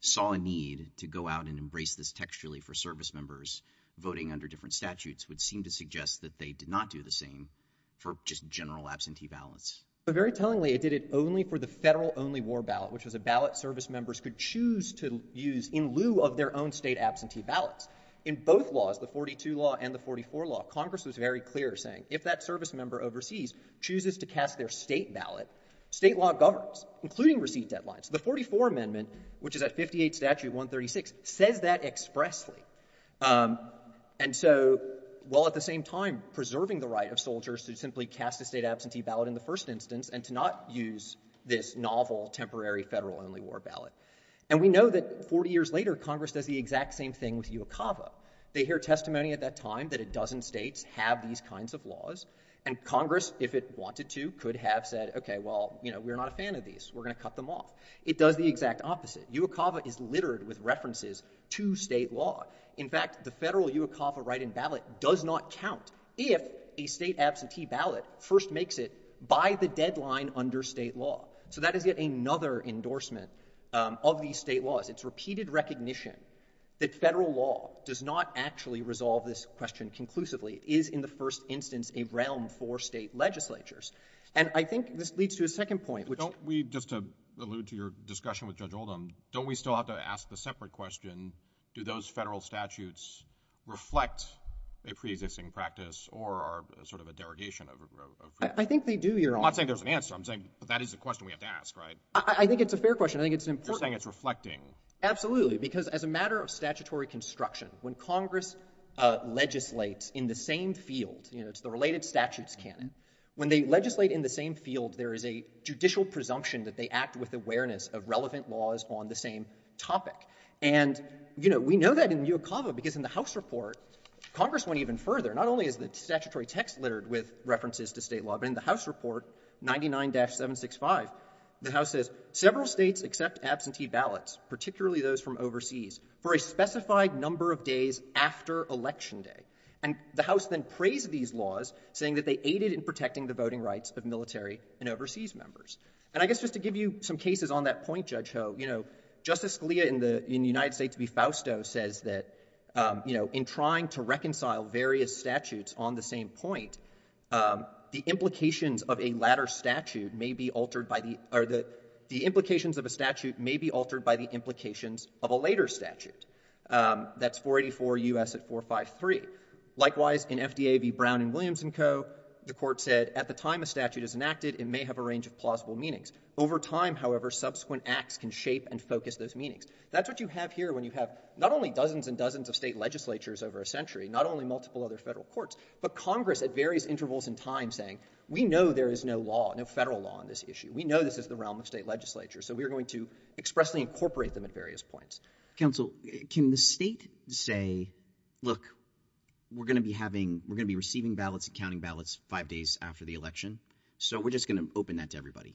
saw a need to go out and embrace this textually for service members voting under different statutes would seem to suggest that they did not do the same for just general absentee ballots. But very tellingly, it did it only for the federal only war ballot, which was a ballot service members could choose to use in lieu of their own state absentee ballots. In both laws, the 42 law and the 44 law, Congress was very clear saying if that service member overseas chooses to cast their state ballot, state law governs, including receipt deadlines. The 44 amendment, which is at 58 statute 136, says that expressly. And so while at the same time preserving the right of soldiers to simply cast a state absentee ballot in the first instance and to not use this novel temporary federal only war ballot. And we know that 40 years later, Congress does the exact same thing with UOCAVA. They hear testimony at that time that a dozen states have these kinds of laws. And Congress, if it wanted to, could have said, okay, well, you know, we're not a fan of these. We're going to cut them off. It does the exact opposite. UOCAVA is littered with references to state law. In fact, the federal UOCAVA write-in ballot does not count if a state absentee ballot first makes it by the deadline under state law. So that is yet another endorsement of these state laws. It's not actually resolve this question conclusively. Is, in the first instance, a realm for state legislatures? And I think this leads to a second point, which Don't we, just to allude to your discussion with Judge Oldham, don't we still have to ask the separate question, do those federal statutes reflect a preexisting practice or are sort of a derogation of freedom? I think they do, Your Honor. I'm not saying there's an answer. I'm saying that is the question we have to ask, right? I think it's a fair question. I think it's important. You're saying it's reflecting. Absolutely, because as a matter of statutory construction, when Congress legislates in the same field, you know, it's the related statutes canon. When they legislate in the same field, there is a judicial presumption that they act with awareness of relevant laws on the same topic. And, you know, we know that in UOCAVA, because in the House report, Congress went even further. Not only is the statutory text littered with references to state law, but in the House report 99-765, the House says several states accept absentee ballots, particularly those from overseas, for a specified number of days after election day. And the House then praised these laws, saying that they aided in protecting the voting rights of military and overseas members. And I guess just to give you some cases on that point, Judge Ho, you know, Justice Scalia in the United States v. Fausto says that, you know, in trying to reconcile various statutes on the same point, the implications of a latter statute may be altered by the — or the implications of a statute may be altered by the implications of a later statute. That's 484 U.S. at 453. Likewise, in FDA v. Brown and Williams & Co., the Court said, at the time a statute is enacted, it may have a range of plausible meanings. Over time, however, subsequent acts can shape and focus those meanings. That's what you have here when you have not only dozens and dozens of state legislatures over a century, not only multiple other Federal courts, but Congress at various intervals in time saying, we know there is no law, no Federal law on this issue. We know this is the realm of state legislature. So we are going to expressly incorporate them at various points. Counsel, can the state say, look, we're going to be having — we're going to be receiving ballots and counting ballots five days after the election, so we're just going to open that to everybody?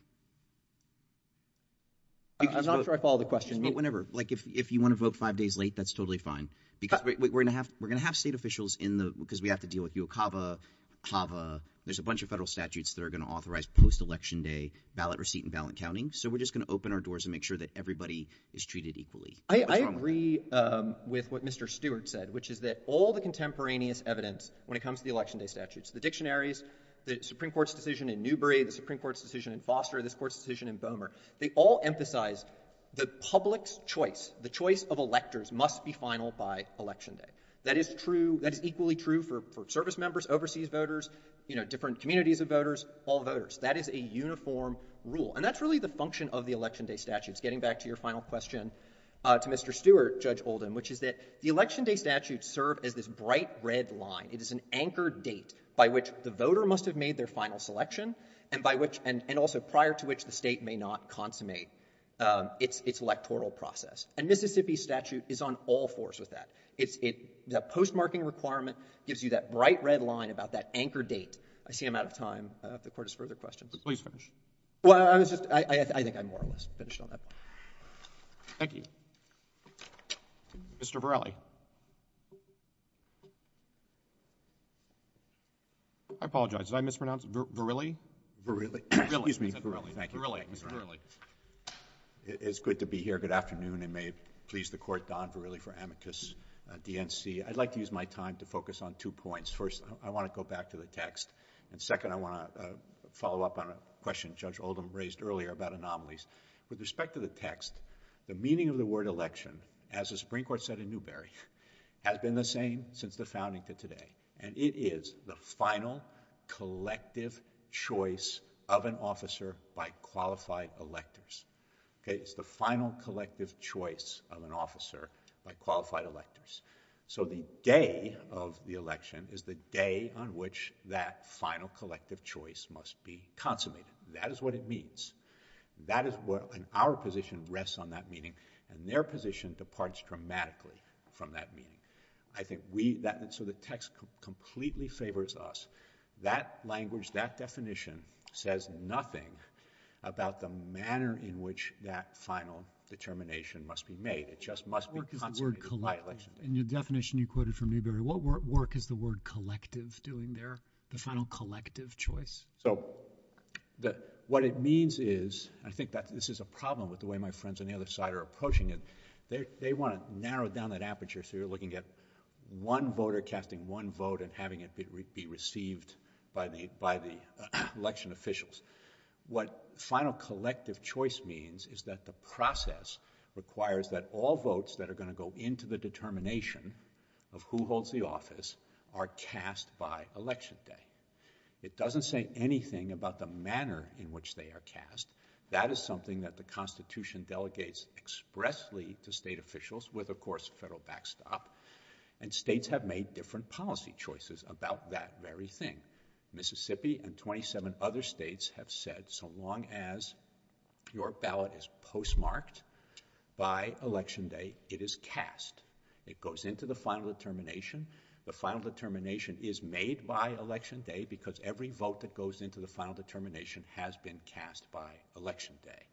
I'm not sure I follow the question. But whenever. Like, if you want to vote five days late, that's totally fine. Because we're going to have state officials in the — because we have to deal with UOCAVA, HAVA. There's a bunch of Federal statutes that are going to authorize post-election day ballot receipt and ballot counting. So we're just going to open our doors and make sure that everybody is treated equally. I agree with what Mr. Stewart said, which is that all the contemporaneous evidence, when it comes to the election day statutes, the dictionaries, the Supreme Court's decision in Newbery, the Supreme Court's decision in Foster, this Court's decision in Boehmer, they all emphasize the public's choice, the choice of electors must be final by election day. That is true — that is equally true for service members, overseas voters, you know, different communities of voters, all voters. That is a uniform rule. And that's really the function of the election day statutes. Getting back to your final question to Mr. Stewart, Judge Oldham, which is that the election day statutes serve as this bright red line. It is an anchor date by which the voter must have made their final selection and by which — and also prior to which the state may not consummate its electoral process. And Mississippi's statute is on all fours with that. It's — the postmarking requirement gives you that bright red line about that anchor date. I see I'm out of time. If the Court has further questions. But please finish. Well, I was just — I think I more or less finished on that. Thank you. Mr. Varelli. I apologize. Did I mispronounce? Varelli? Varelli. Excuse me. Varelli. Thank you. Varelli. Mr. Varelli. It's good to be here. Good afternoon. And may it please the Court, Don Varelli for Amicus DNC. I'd like to use my time to focus on two points. First, I want to go back to the text. And second, I want to follow up on a question Judge Oldham raised earlier about anomalies. With respect to the text, the meaning of the word election, as the Supreme Court said in Newberry, has been the same since the founding to today. And it is the final collective choice of an officer by qualified electors. It's the final collective choice of an officer by qualified electors. So the day of the election is the day on which that final collective choice must be consummated. That is what it means. And our position rests on that meaning. And their position departs dramatically from that meaning. So the text completely favors us. That language, that definition says nothing about the manner in which that final determination must be made. It just must be consummated by election day. In your definition you quoted from Newberry, what work is the word collective doing there? The final collective choice? So what it means is, I think that this is a problem with the way my friends on the other side are approaching it. They want to narrow down that aperture so you're looking at one voter casting one vote and having it be received by the election officials. What final collective choice means is that the process requires that all votes that are going to go into the determination of who holds the office are cast by election day. It doesn't say anything about the manner in which they are cast. That is something that the Constitution delegates expressly to state officials with, of course, federal backstop. And states have made different policy choices about that very thing. Mississippi and 27 other states have said so long as your ballot is postmarked by election day, it is cast. It goes into the final determination. The final determination is made by election day because every vote that goes into the final determination has been cast by election day.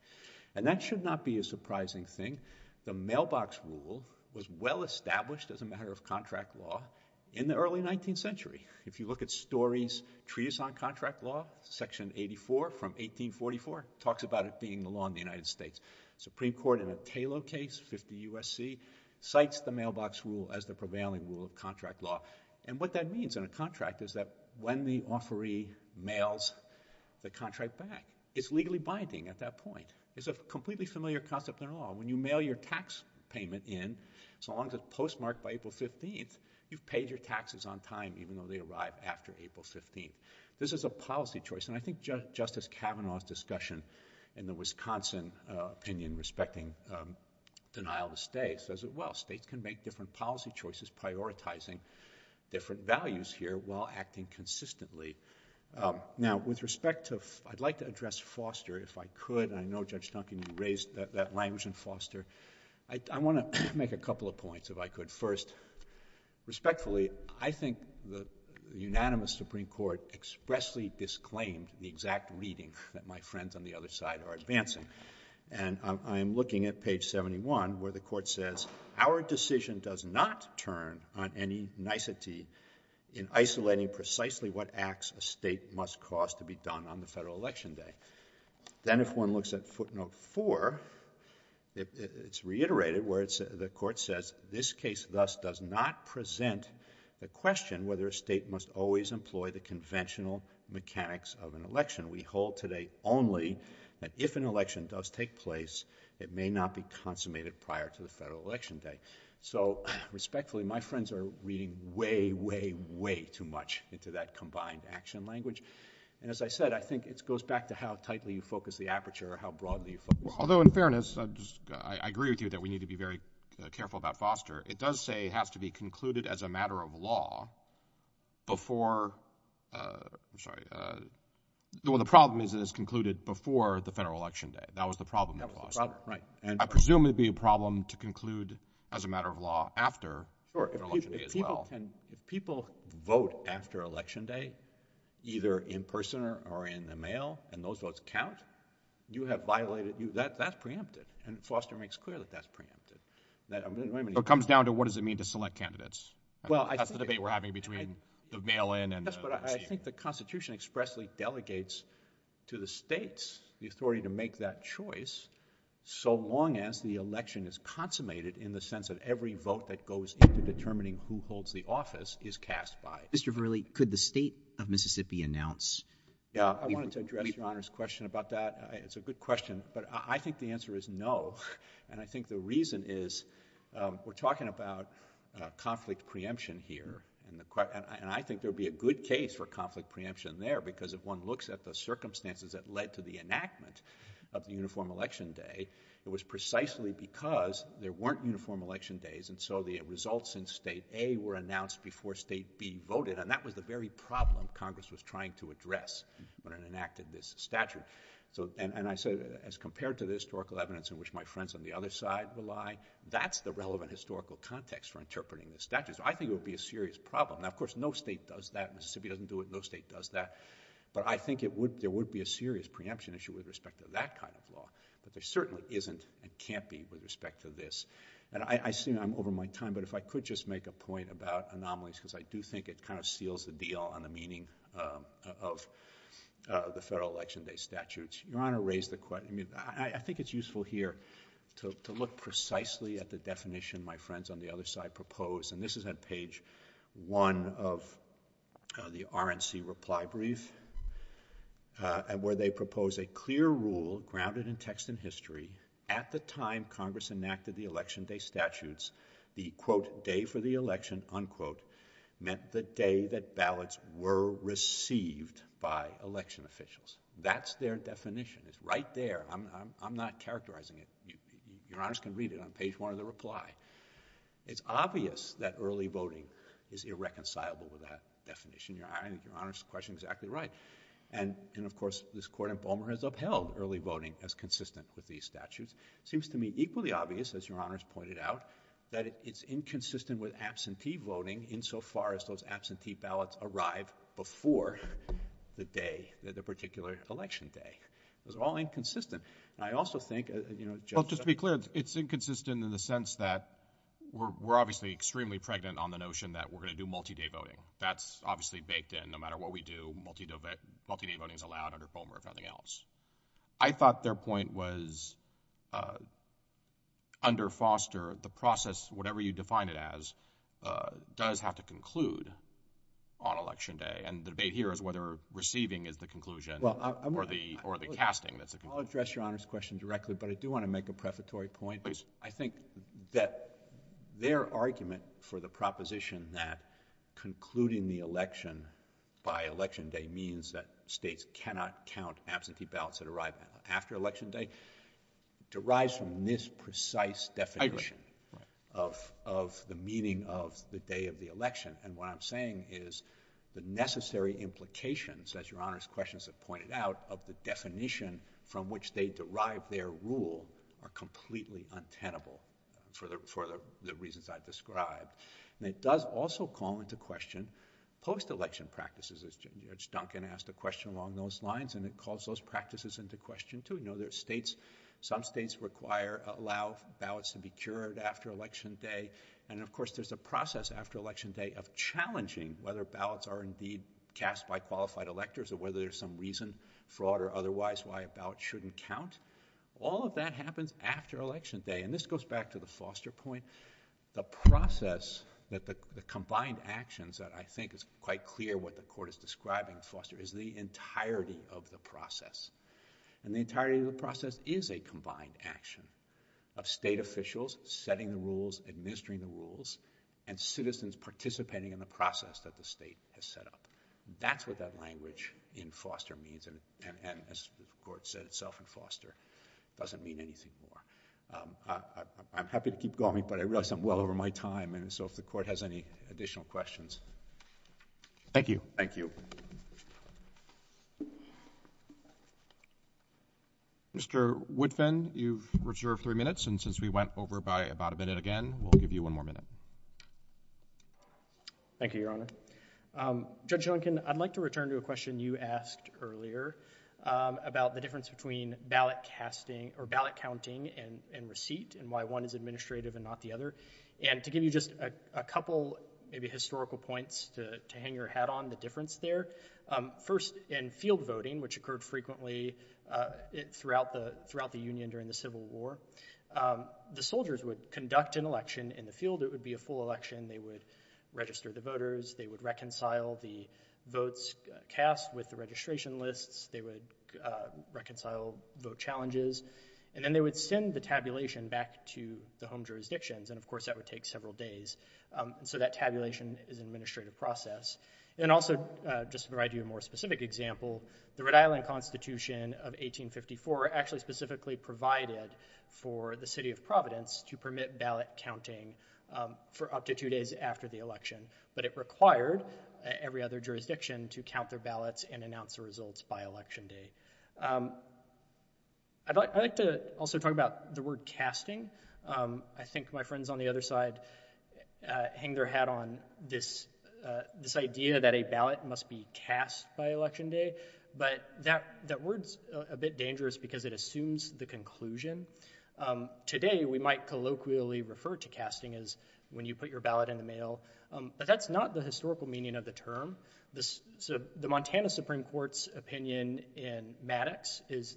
And that should not be a surprising thing. The mailbox rule was well established as a matter of contract law in the early 19th century. If you look at stories, treaties on contract law, section 84 from 1844 talks about it being the law in the United States. Supreme Court in a Taylor case, 50 USC, cites the mailbox rule as the prevailing rule of contract law. And what that means in a contract is that when the offeree mails the contract back, it's legally binding at that point. It's a completely familiar concept in law. When you mail your tax payment in, so long as it's postmarked by April 15th, you've paid your taxes on time, even though they arrive after April 15th. This is a policy choice. And I think Justice Kavanaugh's discussion in the Wisconsin opinion respecting denial of stay says it well. States can make different policy choices prioritizing different values here while acting consistently. Now, with respect to, I'd like to address Foster if I could. And I know Judge Duncan, you raised that language in Foster. I want to make a couple of points if I could. First, respectfully, I think the unanimous Supreme Court expressly disclaimed the exact reading that my friends on the other side are advancing. And I'm looking at page 71 where the court says, our decision does not turn on any nicety in isolating precisely what acts a state must cause to be done on the federal election day. Then if one looks at footnote four, it's reiterated where the court says, this case thus does not present the question whether a state must always employ the conventional mechanics of an election. We hold today only that if an election does take place, it may not be consummated prior to the federal election day. So respectfully, my friends are reading way, way, way too much into that combined action language. And as I said, I think it goes back to how tightly you focus the aperture or how broadly you focus. Although in fairness, I agree with you that we need to be very careful about Foster. It does say it has to be as a matter of law before, uh, I'm sorry. Uh, the one, the problem is that it's concluded before the federal election day. That was the problem. Right. And I presume it'd be a problem to conclude as a matter of law after people vote after election day, either in person or in the mail. And those votes count. You have violated you that that's preempted. And Foster makes clear that that's preempted that it comes down to what does it mean to select candidates? Well, that's the debate we're having between the mail-in and I think the constitution expressly delegates to the states the authority to make that choice. So long as the election is consummated in the sense of every vote that goes into determining who holds the office is cast by Mr. Verley. Could the state of Mississippi announce? Yeah, I wanted to address your honor's question about that. It's a good question, but I think the answer is no. And I think the reason is, um, we're talking about, uh, conflict preemption here and the question, and I think there'll be a good case for conflict preemption there because if one looks at the circumstances that led to the enactment of the uniform election day, it was precisely because there weren't uniform election days. And so the results in state a were announced before state B voted. And that was the very problem Congress was trying to address when it enacted this statute. So, and I said, as compared to the historical evidence in which my friends on the other side rely, that's the relevant historical context for interpreting the statutes. I think it would be a serious problem. Now, of course, no state does that. Mississippi doesn't do it. No state does that. But I think it would, there would be a serious preemption issue with respect to that kind of law, but there certainly isn't and can't be with respect to this. And I assume I'm over my time, but if I could just make a point about anomalies, because I do think it kind of seals the deal on the meaning, um, of, uh, the federal election day statutes, your honor raised the question. I mean, I think it's useful here to look precisely at the definition my friends on the other side propose. And this is at page one of the RNC reply brief, uh, and where they propose a clear rule grounded in text and history at the time Congress enacted the election day statutes, the quote day for the election unquote meant the day that ballots were received by election officials. That's their definition. It's right there. I'm, I'm, I'm not characterizing it. You, your honors can read it on page one of the reply. It's obvious that early voting is irreconcilable with that definition. Your honor's question is exactly right. And, and of course this court in Bowman has upheld early voting as consistent with these statutes. It seems to me equally obvious as your honors pointed out that it's inconsistent with absentee voting insofar as those absentee ballots arrive before the day that the particular election day. It was all inconsistent. And I also think, uh, you know, just to be clear, it's inconsistent in the sense that we're, we're obviously extremely pregnant on the notion that we're going to do multi-day voting. That's obviously baked in no matter what we do, multi-day voting is allowed under Bowman if nothing else. I thought their point was, uh, under Foster, the process, whatever you define it as, uh, does have to conclude on election day. And the debate here is whether receiving is the conclusion or the, or the casting that's the conclusion. I'll address your honors question directly, but I do want to make a prefatory point. Please. I think that their argument for the proposition that concluding the election by election day means that states cannot count absentee ballots that arrive after election day derives from this precise definition of, of the meaning of the day of the election. And what I'm saying is the necessary implications as your honors questions have pointed out of the definition from which they derive their rule are completely untenable for the, for the reasons I've described. And it does also call into question post-election practices as Judge Duncan asked a question along those lines and it calls those practices into question too. You know, there's states, some states require, allow ballots to be cured after election day. And of course there's a process after election day of challenging whether ballots are indeed cast by qualified electors or whether there's some reason, fraud or otherwise, why a ballot shouldn't count. All of that happens after election day. And this goes back to the Foster point, the process that the combined actions that I think is quite clear what the court is describing Foster is the entirety of the process. And the entirety of the process is a combined action of state officials, setting the rules, administering the rules and citizens participating in the process that the state has set up. That's what that language in Foster means. And as the court said itself in Foster, it doesn't mean anything more. I'm happy to keep going, but I realize I'm well over my time. And so if the court has any additional questions. Thank you. Thank you. Mr. Woodfin, you've reserved three minutes. And since we went over by about a minute again, we'll give you one more minute. Thank you, Your Honor. Judge Duncan, I'd like to return to a question you asked earlier about the difference between ballot casting or ballot counting and receipt and why one is administrative and not the other. And to give you just a couple maybe historical points to hang your hat on the difference there. First, in field voting, which occurred frequently throughout the union during the Civil War, the soldiers would conduct an election in the field. It would be a full election. They would register the voters. They would reconcile the votes cast with the registration lists. They would reconcile vote challenges. And then they would send the tabulation back to the home jurisdictions. And of course, that would take several days. So that tabulation is an administrative process. And also just to provide you a more specific example, the Rhode Island Constitution of 1854 actually specifically provided for the city of Providence to permit ballot counting for up to two days after the election. But it required every other jurisdiction to count their ballots and announce the results by election day. I'd like to also talk about the word casting. I think my friends on the other side hang their hat on this idea that a ballot must be cast by election day. But that word's a bit dangerous because it assumes the conclusion. Today, we might colloquially refer to casting as when you put your ballot in the mail. But that's not the historical meaning of the term. The Montana Supreme Court's opinion in Maddox is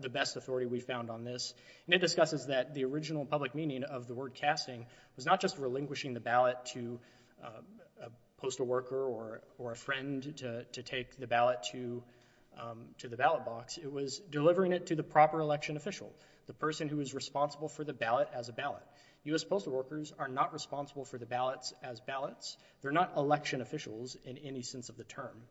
the best authority we found on this. And it discusses that the original public meaning of the word casting was not just relinquishing the ballot to a postal worker or a friend to take the ballot to the ballot box. It was delivering it to the proper election official, the person who is responsible for the ballot as a ballot. U.S. officials are not responsible for the ballots as ballots. They're not election officials in any sense of the term.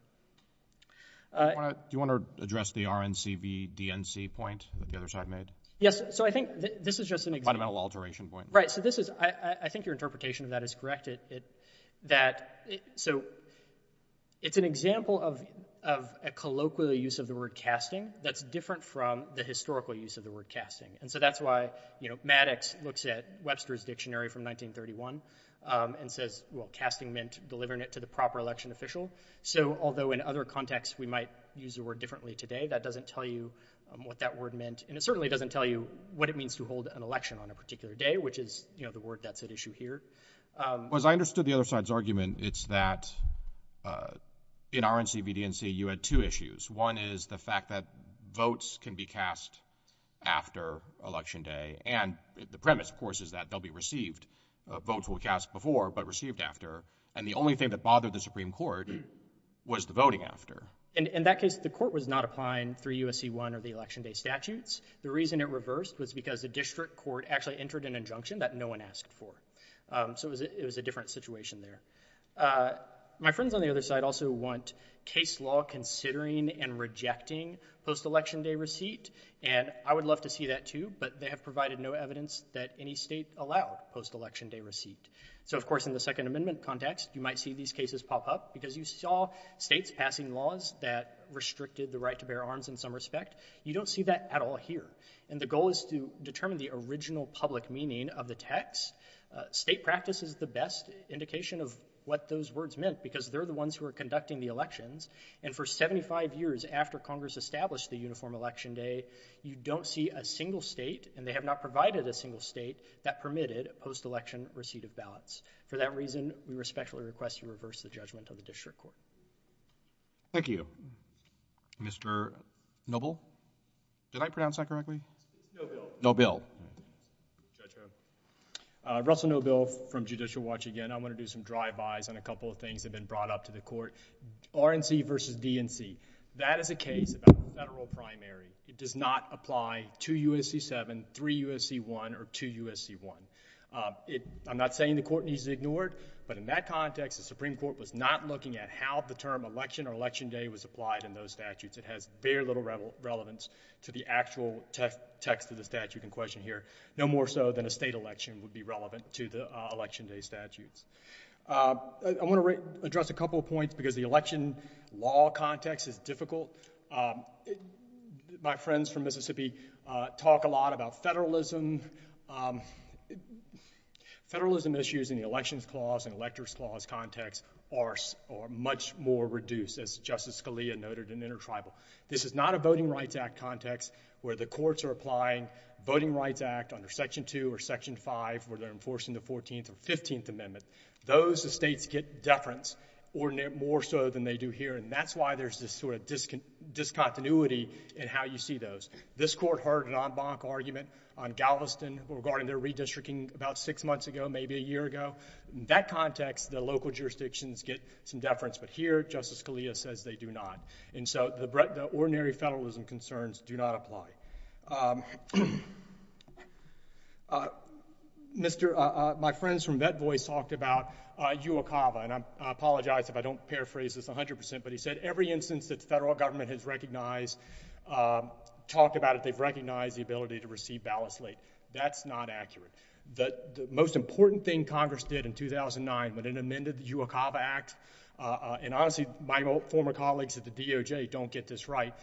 Do you want to address the RNCVDNC point that the other side made? Yes. So I think this is just an example. A fundamental alteration point. Right. So I think your interpretation of that is correct. So it's an example of a colloquial use of the word casting that's different from the historical use of the word casting. And so that's Maddox looks at Webster's Dictionary from 1931 and says, well, casting meant delivering it to the proper election official. So although in other contexts we might use the word differently today, that doesn't tell you what that word meant. And it certainly doesn't tell you what it means to hold an election on a particular day, which is the word that's at issue here. Because I understood the other side's argument. It's that in RNCVDNC, you had two issues. One is the fact that votes can be cast after Election Day. And the premise, of course, is that they'll be received. Votes will be cast before, but received after. And the only thing that bothered the Supreme Court was the voting after. In that case, the court was not applying through USC-1 or the Election Day statutes. The reason it reversed was because the district court actually entered an injunction that no one asked for. So it was a different situation there. Uh, my friends on the other side also want case law considering and rejecting post-Election Day receipt. And I would love to see that too, but they have provided no evidence that any state allowed post-Election Day receipt. So of course, in the Second Amendment context, you might see these cases pop up because you saw states passing laws that restricted the right to bear arms in some respect. You don't see that at all here. And the goal is to determine the original public meaning of the text. State practice is the best indication of what those words meant, because they're the ones who are conducting the elections. And for 75 years after Congress established the uniform Election Day, you don't see a single state, and they have not provided a single state, that permitted post-Election receipt of ballots. For that reason, we respectfully request you reverse the judgment of the district court. Thank you. Mr. Noble? Did I pronounce that correctly? Nobile. Nobile. Judge Ho. Uh, Russell Noble from Judicial Watch again. I want to do some drive-bys on a couple of things that have been brought up to the court. RNC versus DNC. That is a case about the federal primary. It does not apply to U.S.C. 7, 3 U.S.C. 1, or 2 U.S.C. 1. I'm not saying the court needs to ignore it, but in that context, the Supreme Court was not looking at how the term Election or Election Day was applied in those statutes. It has very little relevance to the actual text of the statute in question here, no more so than a state election would be relevant to the Election Day statutes. I want to address a couple of points because the election law context is difficult. My friends from Mississippi talk a lot about federalism. Federalism issues in the Elections Clause and Electors Clause context are much more reduced, as Justice Scalia noted, in intertribal. This is not a Voting Rights Act context where the courts are applying Voting Rights Act under Section 2 or Section 5 where they're enforcing the 14th or 15th Amendment. Those states get deference more so than they do here, and that's why there's this sort of discontinuity in how you see those. This court heard an en banc argument on Galveston regarding their redistricting about six months ago, maybe a year ago. In that context, the local jurisdictions get some deference, but here, Justice Scalia says they do not, and so the ordinary federalism concerns do not apply. My friends from VetVoice talked about UOCAVA, and I apologize if I don't paraphrase this 100%, but he said every instance that the federal government has recognized, talked about it, they've recognized the ability to receive ballot slate. That's not accurate. The most important thing Congress did in 2009 when it amended the UOCAVA Act, and honestly, my former colleagues at the DOJ don't get this right,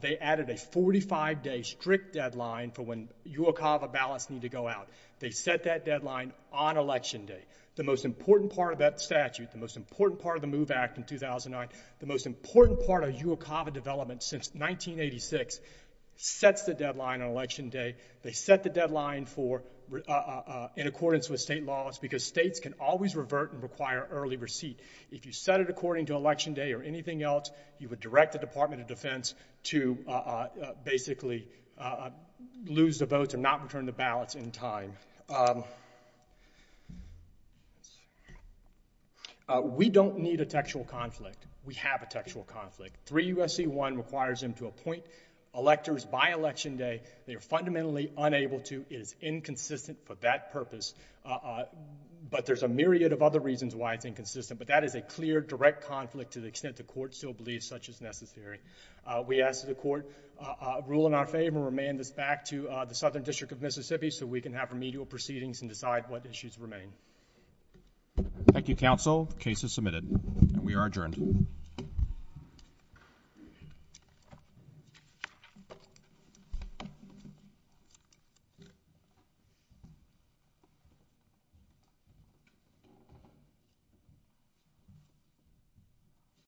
they added a 45-day strict deadline for when UOCAVA ballots need to go out. They set that deadline on Election Day. The most important part of that statute, the most important part of the MOVE Act in 2009, the most important part of UOCAVA development since 1986 sets the deadline on Election Day. They set the deadline for in accordance with state laws because states can always revert and require early receipt. If you set it according to Election Day or anything else, you would direct the Department of Defense to basically lose the votes and not return the ballots in time. We don't need a textual conflict. We have a textual conflict. 3 U.S.C. 1 requires them to be inconsistent for that purpose, but there's a myriad of other reasons why it's inconsistent, but that is a clear, direct conflict to the extent the Court still believes such is necessary. We ask that the Court rule in our favor and remand this back to the Southern District of Mississippi so we can have remedial proceedings and decide what issues remain. Thank you, Counsel. The case is submitted and we are adjourned.